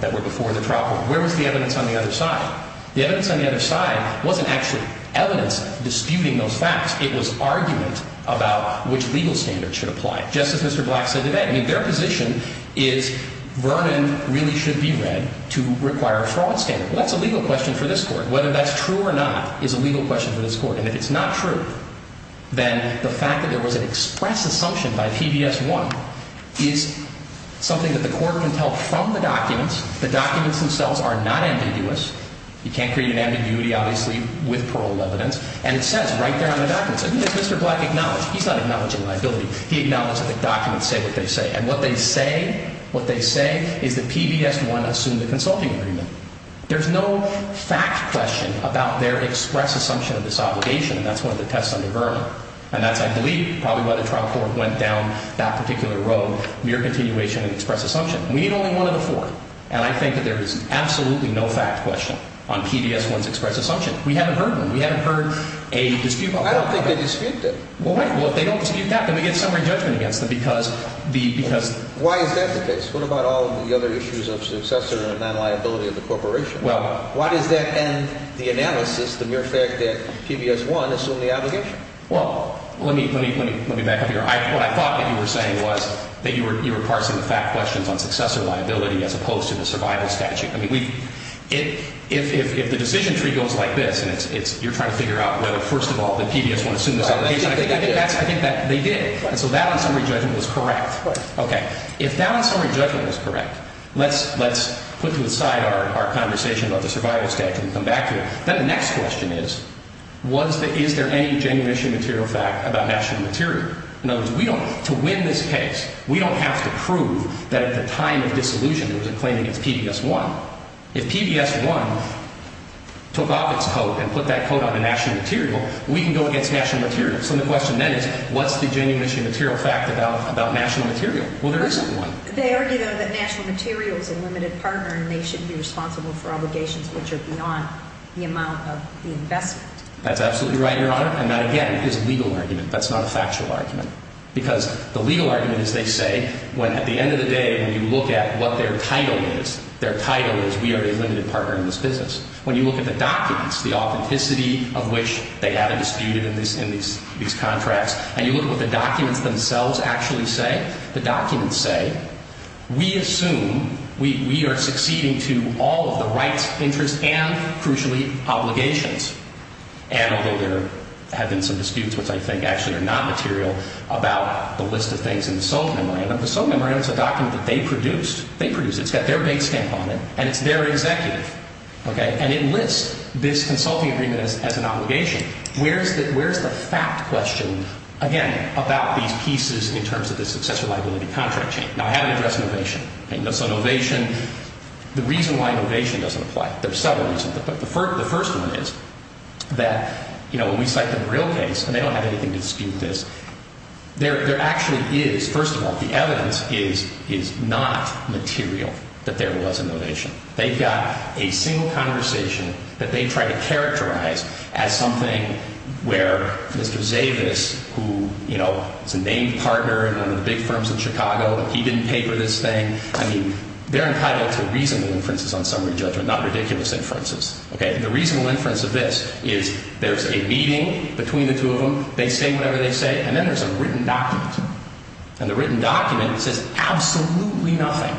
that were before the trial court. Where was the evidence on the other side? The evidence on the other side wasn't actually evidence disputing those facts. It was argument about which legal standard should apply, just as Mr. Black said today. I mean, their position is Vernon really should be read to require a fraud standard. That's a legal question for this Court. Whether that's true or not is a legal question for this Court. And if it's not true, then the fact that there was an express assumption by PBS 1 is something that the Court can tell from the documents. The documents themselves are not ambiguous. You can't create an ambiguity, obviously, with parole evidence. And it says right there on the documents. I mean, if Mr. Black acknowledged, he's not acknowledging liability. He acknowledged that the documents say what they say. And what they say, what they say is that PBS 1 assumed a consulting agreement. There's no fact question about their express assumption of this obligation, and that's one of the tests under Vernon. And that's, I believe, probably why the trial court went down that particular road, mere continuation of the express assumption. We need only one of the four. And I think that there is absolutely no fact question on PBS 1's express assumption. We haven't heard one. We haven't heard a dispute. I don't think they disputed it. Well, wait. Well, if they don't dispute that, then we get summary judgment against them because the— Why is that the case? What about all of the other issues of successor and non-liability of the corporation? Why does that end the analysis, the mere fact that PBS 1 assumed the obligation? Well, let me back up here. What I thought that you were saying was that you were parsing the fact questions on successor liability as opposed to the survival statute. I mean, if the decision tree goes like this and you're trying to figure out whether, first of all, that PBS 1 assumed this obligation, I think that they did. And so that on summary judgment was correct. Right. Okay. If that on summary judgment was correct, let's put to the side our conversation about the survival statute and come back to it. Then the next question is, was the—is there any genuine issue of material fact about national material? In other words, we don't—to win this case, we don't have to prove that at the time of disillusion there was a claim against PBS 1. If PBS 1 took off its coat and put that coat on to national material, we can go against national material. So the question then is, what's the genuine issue of material fact about national material? Well, there isn't one. They argue, though, that national material is a limited partner, and they should be responsible for obligations which are beyond the amount of the investment. That's absolutely right, Your Honor. And that, again, is a legal argument. That's not a factual argument. Because the legal argument is, they say, when—at the end of the day, when you look at what their title is, their title is, we are a limited partner in this business. When you look at the documents, the authenticity of which they haven't disputed in these contracts, and you look at what the documents themselves actually say, the documents say, we assume we are succeeding to all of the rights, interests, and, crucially, obligations. And although there have been some disputes, which I think actually are not material, about the list of things in the sole memorandum, the sole memorandum is a document that they produced. They produced it. It's got their big stamp on it. And it's their executive. Okay? And it lists this consulting agreement as an obligation. Where's the fact question, again, about these pieces in terms of the successor liability contract chain? Now, I haven't addressed novation. So novation—the reason why novation doesn't apply. There are several reasons. But the first one is that, you know, when we cite them in a real case, and they don't have anything to dispute this, there actually is—first of all, the evidence is not material that there was a novation. They've got a single conversation that they try to characterize as something where Mr. Zavis, who, you know, is a named partner in one of the big firms in Chicago, he didn't paper this thing. I mean, they're entitled to reasonable inferences on summary judgment, not ridiculous inferences. Okay? And the reasonable inference of this is there's a meeting between the two of them. They say whatever they say. And then there's a written document. And the written document says absolutely nothing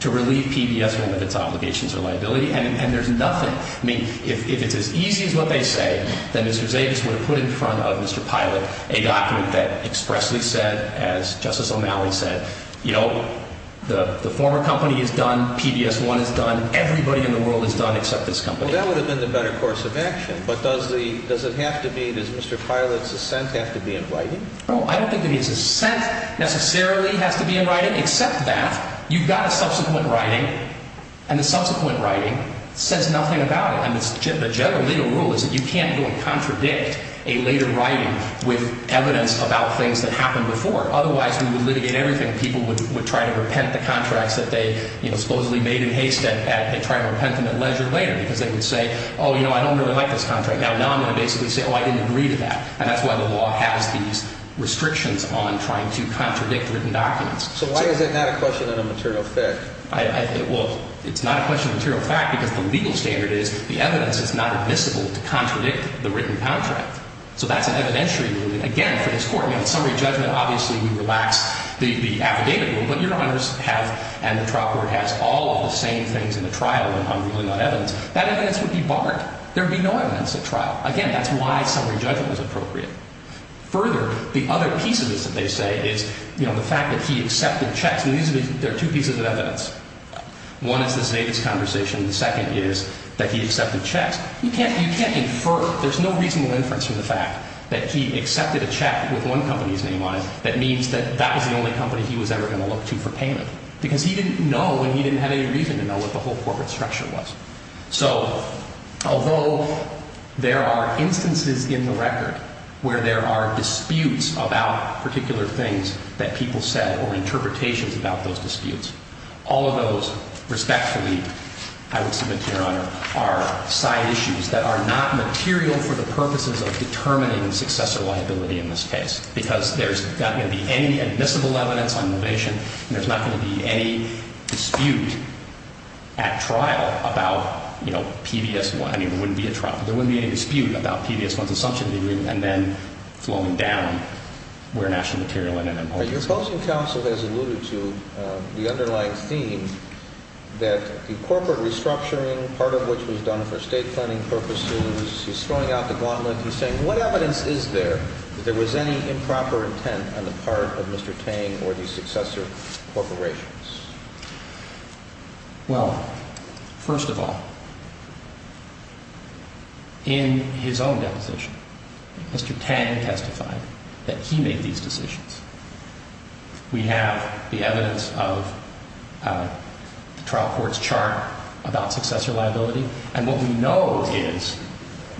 to relieve PBS 1 of its obligations or liability. And there's nothing. I mean, if it's as easy as what they say, then Mr. Zavis would have put in front of Mr. Pilot a document that expressly said, as Justice O'Malley said, you know, the former company is done. PBS 1 is done. Everybody in the world is done except this company. Well, that would have been the better course of action. But does the—does it have to be—does Mr. Pilot's assent have to be invited? No, I don't think that his assent necessarily has to be invited except that you've got a subsequent writing and the subsequent writing says nothing about it. And the general legal rule is that you can't go and contradict a later writing with evidence about things that happened before. Otherwise, we would litigate everything. People would try to repent the contracts that they, you know, supposedly made in haste at— they'd try to repent them at leisure later because they would say, oh, you know, I don't really like this contract. Now I'm going to basically say, oh, I didn't agree to that. And that's why the law has these restrictions on trying to contradict written documents. So why is it not a question of a material fact? Well, it's not a question of material fact because the legal standard is the evidence is not admissible to contradict the written contract. So that's an evidentiary ruling. Again, for this Court, you know, in summary judgment, obviously, we relax the affidavit rule. But Your Honors have—and the trial court has all of the same things in the trial when I'm ruling on evidence. That evidence would be barred. There would be no evidence at trial. Again, that's why summary judgment was appropriate. Further, the other piece of this that they say is, you know, the fact that he accepted checks. And these are—there are two pieces of evidence. One is this Davis conversation. The second is that he accepted checks. You can't—you can't infer—there's no reasonable inference from the fact that he accepted a check with one company's name on it that means that that was the only company he was ever going to look to for payment because he didn't know and he didn't have any reason to know what the whole corporate structure was. So although there are instances in the record where there are disputes about particular things that people said or interpretations about those disputes, all of those respectfully, I would submit to Your Honor, are side issues that are not material for the purposes of determining successor liability in this case because there's not going to be any admissible evidence on innovation and there's not going to be any dispute at trial about, you know, PBS1. I mean, there wouldn't be a trial—there wouldn't be any dispute about PBS1's assumption of the agreement and then flowing down where national material ended up. Your opposing counsel has alluded to the underlying theme that the corporate restructuring, part of which was done for state planning purposes, he's throwing out the gauntlet. Well, first of all, in his own deposition, Mr. Tang testified that he made these decisions. We have the evidence of the trial court's chart about successor liability and what we know is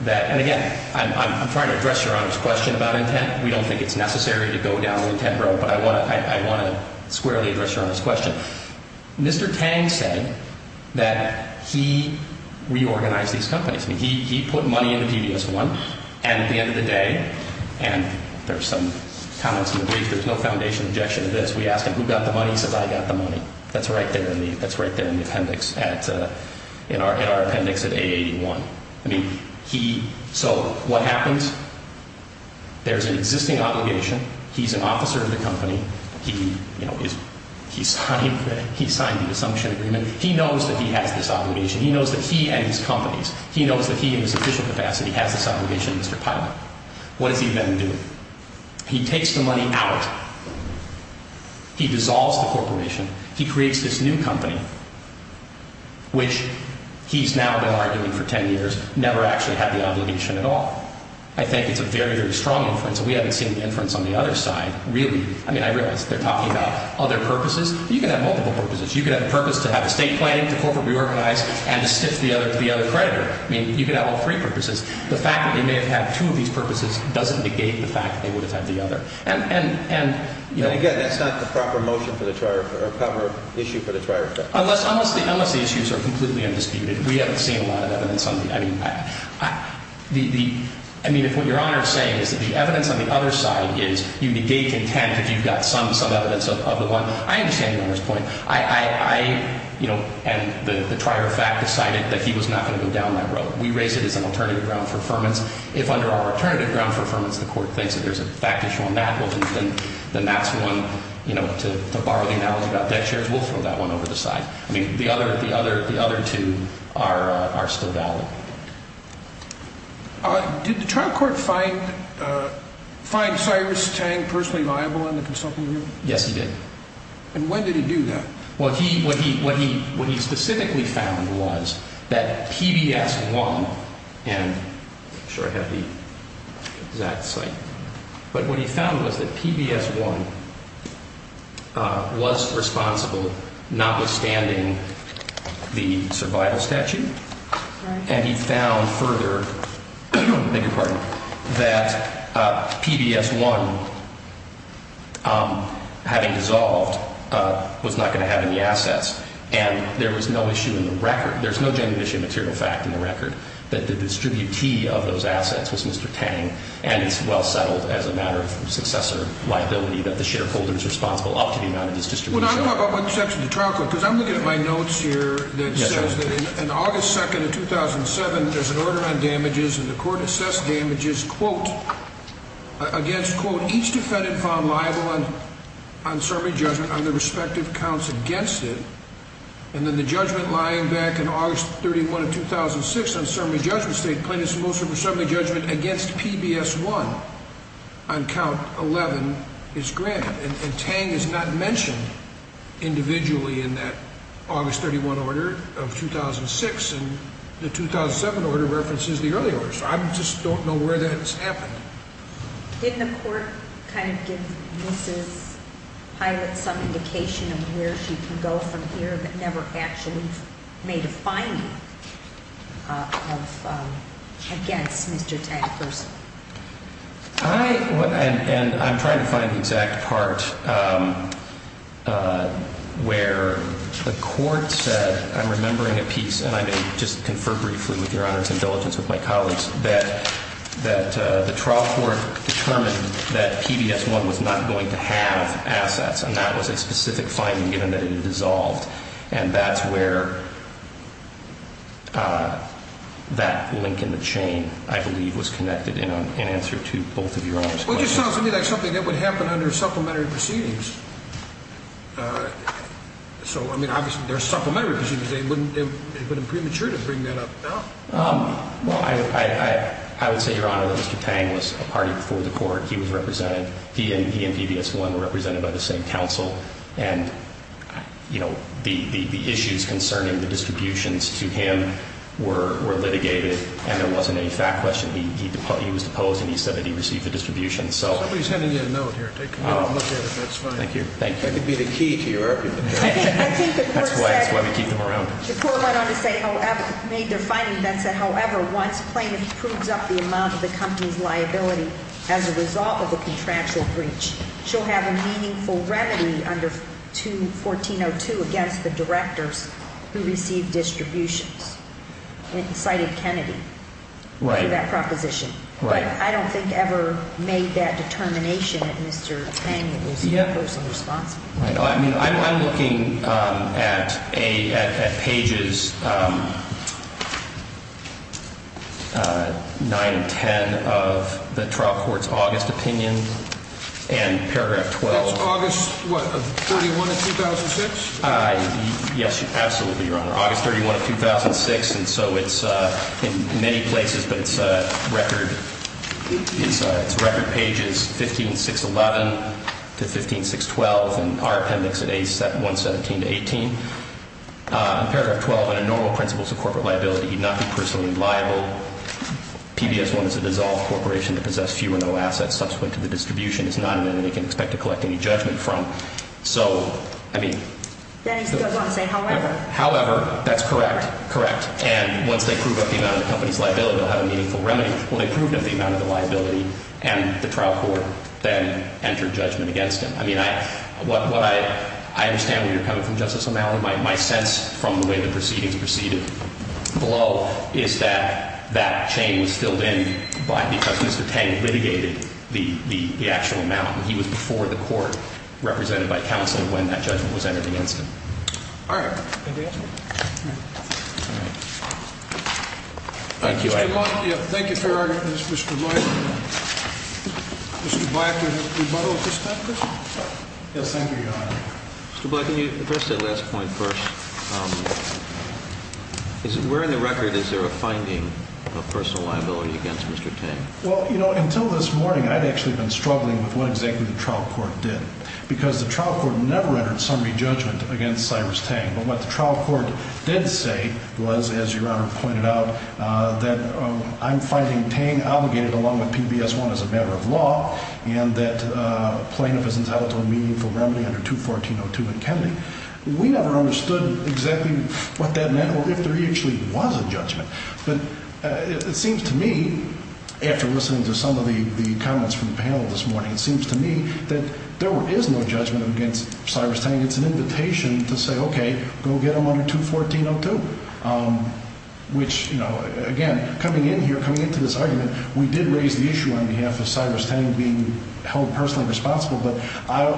that—and again, I'm not going to go into the details of this, but I'm trying to address Your Honor's question about intent. We don't think it's necessary to go down the intent road, but I want to squarely address Your Honor's question. Mr. Tang said that he reorganized these companies. I mean, he put money in the PBS1 and at the end of the day, and there's some comments in the brief, there's no foundational objection to this, we ask him, who got the money? He says, I got the money. That's right there in the appendix at—in our appendix at A81. I mean, he—so what happens? There's an existing obligation. He's an officer of the company. He, you know, he signed the dissumption agreement. He knows that he has this obligation. He knows that he and his companies, he knows that he in his official capacity has this obligation to Mr. Pilot. What does he then do? He takes the money out. He dissolves the corporation. He creates this new company, which he's now been arguing for 10 years, never actually had the obligation at all. I think it's a very, very strong inference. We haven't seen the inference on the other side, really. I mean, I realize they're talking about other purposes. You can have multiple purposes. You can have a purpose to have estate planning, to corporate reorganize, and to stiff the other creditor. I mean, you can have all three purposes. The fact that they may have had two of these purposes doesn't negate the fact that they would have had the other. And again, that's not the proper motion for the trier effect, or proper issue for the trier effect. Unless the issues are completely undisputed, we haven't seen a lot of evidence on the other. I mean, if what Your Honor is saying is that the evidence on the other side is you negate content if you've got some evidence of the one, I understand Your Honor's point. I, you know, and the trier effect decided that he was not going to go down that road. We raise it as an alternative ground for affirmance. If under our alternative ground for affirmance the court thinks that there's a fact issue on that, well, then that's one, you know, to borrow the analogy about debt shares, we'll throw that one over the side. I mean, the other two are still valid. Did the trial court find Cyrus Tang personally liable in the consulting review? Yes, he did. And when did he do that? Well, he, what he, what he, what he specifically found was that PBS1, and I'm sure I have the exact site, but what he found was that PBS1 was responsible, notwithstanding the survival statute, and he found further, beg your pardon, that PBS1, having dissolved, was not going to have any assets. And there was no issue in the record. There's no genuine issue of material fact in the record that the distributee of those assets was Mr. Tang, and he's well settled as a matter of successor liability that the shareholder is responsible up to the amount of his distribution. Well, I don't know about what section of the trial court, because I'm looking at my notes here that says that in August 2nd of 2007, there's an order on damages, and the court assessed damages, quote, against, quote, each defendant found liable on, on summary judgment on their respective counts against it, and then the judgment lying back in August 31 of 2006 on summary judgment state, plaintiffs mostly for summary judgment against PBS1 on count 11 is granted, and Tang is not mentioned individually in that August 31 order of 2006, and the 2007 order references the earlier order, so I just don't know where that has happened. Didn't the court kind of give Mrs. Pilot some indication of where she can go from here, but never actually made a finding of, against Mr. Tang personally? I, and I'm trying to find the exact part where the court said, I'm remembering a piece, and I may just confer briefly with your honors and diligence with my colleagues, that the trial court determined that PBS1 was not going to have assets, and that was a specific finding given that it had dissolved, and that's where that link in the chain, I believe, was connected in answer to both of your honors' questions. Well, it just sounds to me like something that would happen under supplementary proceedings. So, I mean, obviously, there are supplementary proceedings. It wouldn't be premature to bring that up now. Well, I would say, your honor, that Mr. Tang was a party before the court. He was represented, he and PBS1 were represented by the same council, and, you know, the issues concerning the distributions to him were litigated, and there wasn't any fact question. He was deposed, and he said that he received the distribution, so. Somebody's handing you a note here. Take a look at it. That's fine. Thank you. Thank you. That could be the key to your argument. That's why we keep them around. The court went on to say, however, made their finding that said, however, once plaintiff proves up the amount of the company's liability as a result of a contractual breach, she'll have a meaningful remedy under 2-1402 against the directors who received distributions. And it cited Kennedy for that proposition. Right. But I don't think ever made that determination that Mr. Tang was the person responsible. I mean, I'm looking at pages 9 and 10 of the trial court's August opinion, and paragraph 12. That's August, what, of 31 of 2006? Yes, absolutely, Your Honor. And so it's in many places, but it's record pages 15, 611 to 15, 612, and our appendix at 117 to 18. In paragraph 12, under normal principles of corporate liability, he'd not be personally liable. PBS wanted to dissolve a corporation to possess few or no assets subsequent to the distribution. It's not an entity you can expect to collect any judgment from. So, I mean. However. However, that's correct. Correct. And once they prove up the amount of the company's liability, they'll have a meaningful remedy. Well, they proved up the amount of the liability, and the trial court then entered judgment against him. I mean, I understand where you're coming from, Justice O'Malley. My sense from the way the proceedings proceeded below is that that chain was filled in because Mr. Tang litigated the actual amount. He was before the court, represented by counsel, when that judgment was entered against him. All right. Thank you, Your Honor. Thank you for your argument, Mr. Blight. Mr. Blight, would you rebuttal at this time, please? Yes, thank you, Your Honor. Mr. Blight, can you address that last point first? Where in the record is there a finding of personal liability against Mr. Tang? Well, you know, until this morning I'd actually been struggling with what exactly the trial court did. Because the trial court never entered summary judgment against Cyrus Tang. But what the trial court did say was, as Your Honor pointed out, that I'm finding Tang obligated along with PBS-1 as a matter of law. And that plaintiff is entitled to a meaningful remedy under 214.02 McKinley. We never understood exactly what that meant or if there actually was a judgment. But it seems to me, after listening to some of the comments from the panel this morning, it seems to me that there is no judgment against Cyrus Tang. It's an invitation to say, okay, go get him under 214.02. Which, you know, again, coming in here, coming into this argument, we did raise the issue on behalf of Cyrus Tang being held personally responsible. But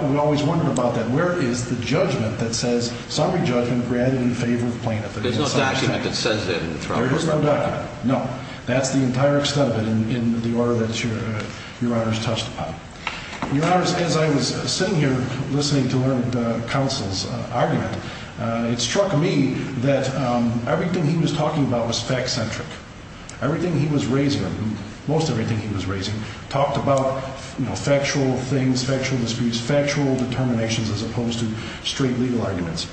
we always wondered about that. Where is the judgment that says summary judgment granted in favor of the plaintiff? There's no document that says that in the trial court. There is no document, no. That's the entire extent of it in the order that Your Honor has touched upon. Your Honor, as I was sitting here listening to the counsel's argument, it struck me that everything he was talking about was fact-centric. Everything he was raising, most everything he was raising, talked about, you know, factual things, factual disputes, factual determinations as opposed to straight legal arguments.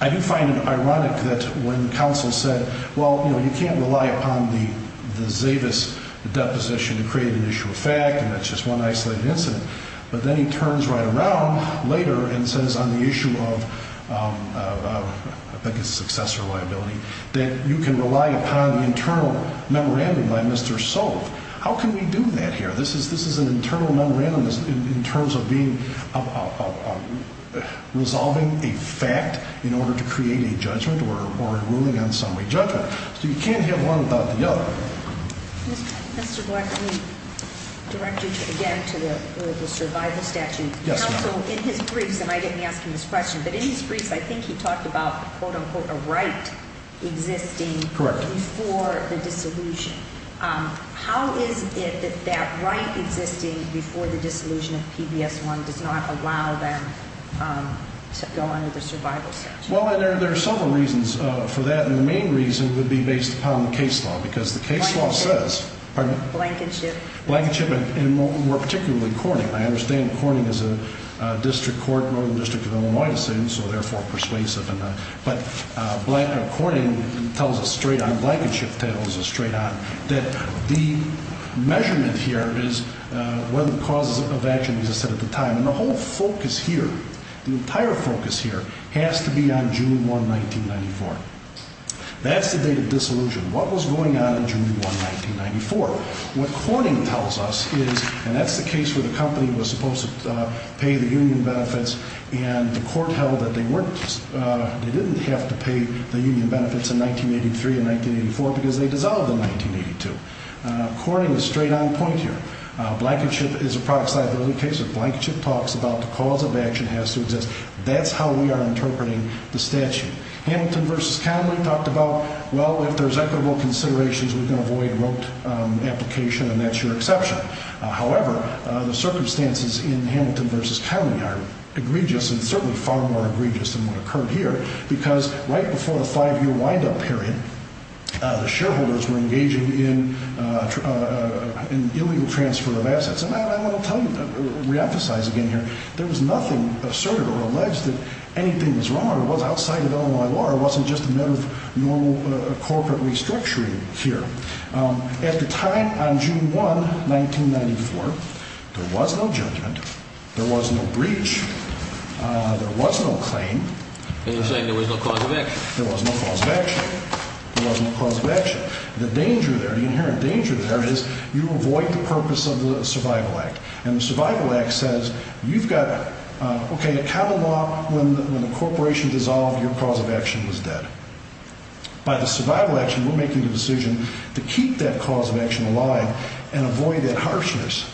I do find it ironic that when counsel said, well, you know, you can't rely upon the Zavis deposition to create an issue of fact, and that's just one isolated incident. But then he turns right around later and says on the issue of, I think it's successor liability, that you can rely upon the internal memorandum by Mr. Solve. How can we do that here? This is an internal memorandum in terms of resolving a fact in order to create a judgment or ruling on summary judgment. So you can't have one without the other. Mr. Black, let me direct you again to the survival statute. Counsel, in his briefs, and I didn't ask him this question, but in his briefs, I think he talked about, quote, unquote, a right existing before the dissolution. How is it that that right existing before the dissolution of PBS-1 does not allow them to go under the survival statute? Well, there are several reasons for that, and the main reason would be based upon the case law, because the case law says... Blankenship. Pardon? Blankenship. Blankenship, and more particularly corning. I understand corning is a district court, Northern District of Illinois, so therefore persuasive. But corning tells us straight on, blankenship tells us straight on, that the measurement here is one of the causes of action, as I said at the time. And the whole focus here, the entire focus here, has to be on June 1, 1994. That's the date of dissolution. What was going on in June 1, 1994? What corning tells us is, and that's the case where the company was supposed to pay the union benefits, and the court held that they weren't... they didn't have to pay the union benefits in 1983 and 1984 because they dissolved in 1982. Corning is straight on point here. Blankenship is a product liability case, so blankenship talks about the cause of action has to exist. That's how we are interpreting the statute. Hamilton v. Connolly talked about, well, if there's equitable considerations, we can avoid rote application, and that's your exception. However, the circumstances in Hamilton v. Connolly are egregious and certainly far more egregious than what occurred here because right before the five-year windup period, the shareholders were engaging in illegal transfer of assets. And I want to tell you, reemphasize again here, there was nothing assertive or alleged that anything was wrong or was outside of Illinois law or wasn't just a matter of normal corporate restructuring here. At the time on June 1, 1994, there was no judgment. There was no breach. There was no claim. And you're saying there was no cause of action. There was no cause of action. But the danger there, the inherent danger there is you avoid the purpose of the Survival Act. And the Survival Act says you've got, okay, a capital law when the corporation dissolved, your cause of action was dead. By the survival action, we're making the decision to keep that cause of action alive and avoid that harshness.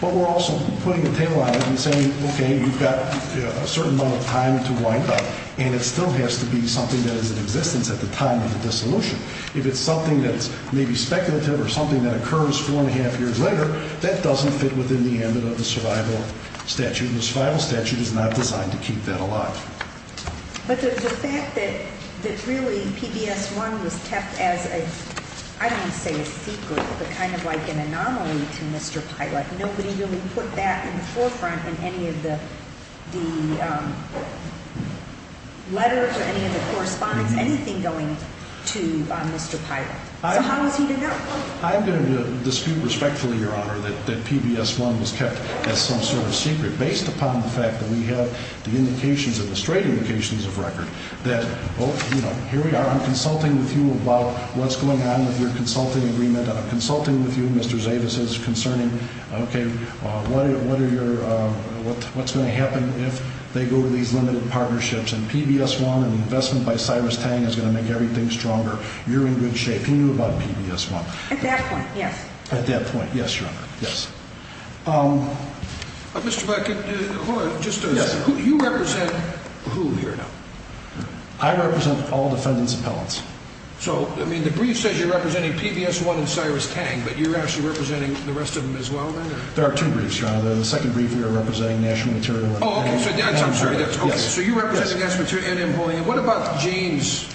But we're also putting a tail on it and saying, okay, you've got a certain amount of time to wind up, and it still has to be something that is in existence at the time of the dissolution. If it's something that's maybe speculative or something that occurs four and a half years later, that doesn't fit within the ambit of the survival statute, and the survival statute is not designed to keep that alive. But the fact that really PBS1 was kept as a, I don't want to say a secret, but kind of like an anomaly to Mr. Pilot, nobody really put that in the forefront in any of the letters or any of the correspondence, anything going to Mr. Pilot. So how is he to know? I'm going to dispute respectfully, Your Honor, that PBS1 was kept as some sort of secret, based upon the fact that we have the indications and the straight indications of record that, oh, you know, here we are, I'm consulting with you about what's going on with your consulting agreement, I'm consulting with you, Mr. Zavis, concerning, okay, what's going to happen if they go to these limited partnerships, and PBS1 and investment by Cyrus Tang is going to make everything stronger. You're in good shape. He knew about PBS1. At that point, yes. At that point, yes, Your Honor, yes. Mr. Beckett, hold on just a second. Yes. You represent whom here now? I represent all defendants' appellants. So, I mean, the brief says you're representing PBS1 and Cyrus Tang, but you're actually representing the rest of them as well, then? There are two briefs, Your Honor. The second brief we are representing national material. Oh, okay. I'm sorry. So you represent the national material and employee. What about James?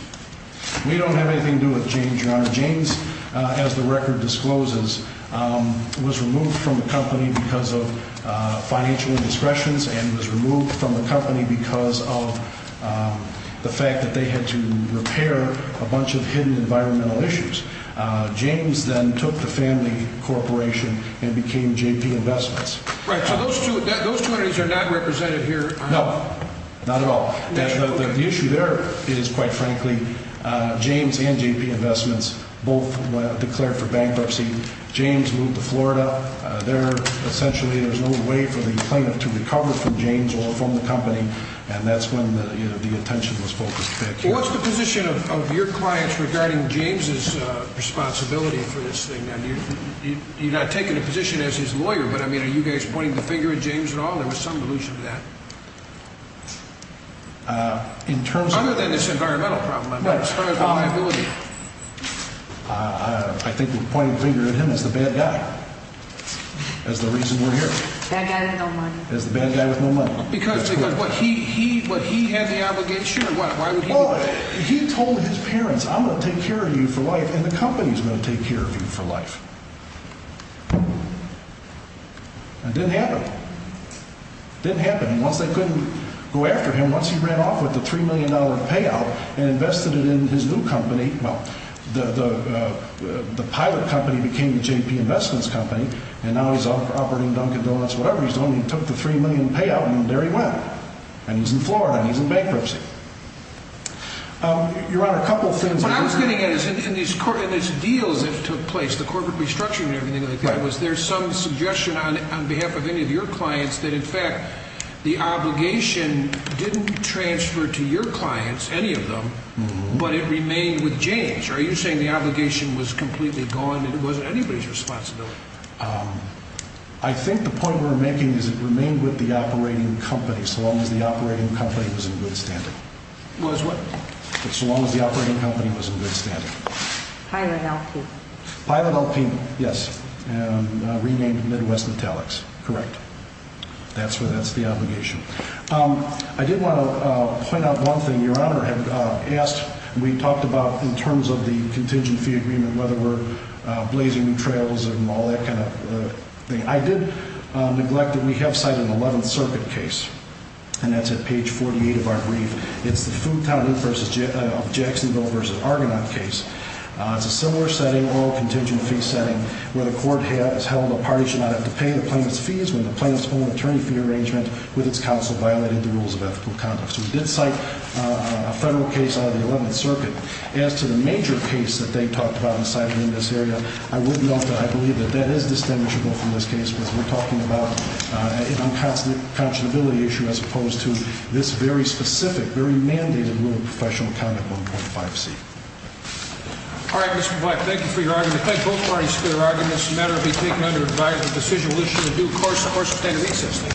We don't have anything to do with James, Your Honor. James, as the record discloses, was removed from the company because of financial indiscretions and was removed from the company because of the fact that they had to repair a bunch of hidden environmental issues. James then took the family corporation and became J.P. Investments. Right. So those two entities are not represented here? No, not at all. The issue there is, quite frankly, James and J.P. Investments both declared for bankruptcy. James moved to Florida. There, essentially, there's no way for the plaintiff to recover from James or from the company, and that's when the attention was focused back here. What's the position of your clients regarding James' responsibility for this thing? Now, you're not taking a position as his lawyer, but, I mean, are you guys pointing the finger at James at all? There was some allusion to that. Other than this environmental problem, I mean, as far as the liability. I think we're pointing the finger at him as the bad guy, as the reason we're here. Bad guy with no money. As the bad guy with no money. Because he had the obligation or what? Well, he told his parents, I'm going to take care of you for life, and the company's going to take care of you for life. It didn't happen. It didn't happen. Once they couldn't go after him, once he ran off with the $3 million payout and invested it in his new company, well, the pilot company became the J.P. Investments Company, and now he's operating Dunkin' Donuts or whatever he's doing. He took the $3 million payout and there he went. And he's in Florida and he's in bankruptcy. Your Honor, a couple of things. What I was getting at is in these deals that took place, the corporate restructuring and everything like that, the obligation didn't transfer to your clients, any of them, but it remained with James. Are you saying the obligation was completely gone and it wasn't anybody's responsibility? I think the point we're making is it remained with the operating company so long as the operating company was in good standing. Was what? So long as the operating company was in good standing. Pilot LP. Pilot LP, yes, and renamed Midwest Metallics, correct. That's the obligation. I did want to point out one thing. Your Honor had asked, we talked about in terms of the contingent fee agreement, whether we're blazing new trails and all that kind of thing. I did neglect that we have cited an 11th Circuit case, and that's at page 48 of our brief. It's the Fulton v. Jacksonville v. Argonaut case. It's a similar setting, oral contingent fee setting, where the court has held a party should not have to pay the plaintiff's fees when the plaintiff's own attorney fee arrangement with its counsel violated the rules of ethical conduct. So we did cite a federal case out of the 11th Circuit. As to the major case that they talked about and cited in this area, I would note that I believe that that is distinguishable from this case because we're talking about an unconscionability issue as opposed to this very specific, very mandated rule of professional conduct, 1.5C. All right, Mr. Black, thank you for your argument. I thank both parties for their arguments. It's a matter to be taken under advisement. The decision will issue a due course or a sustainability assessment.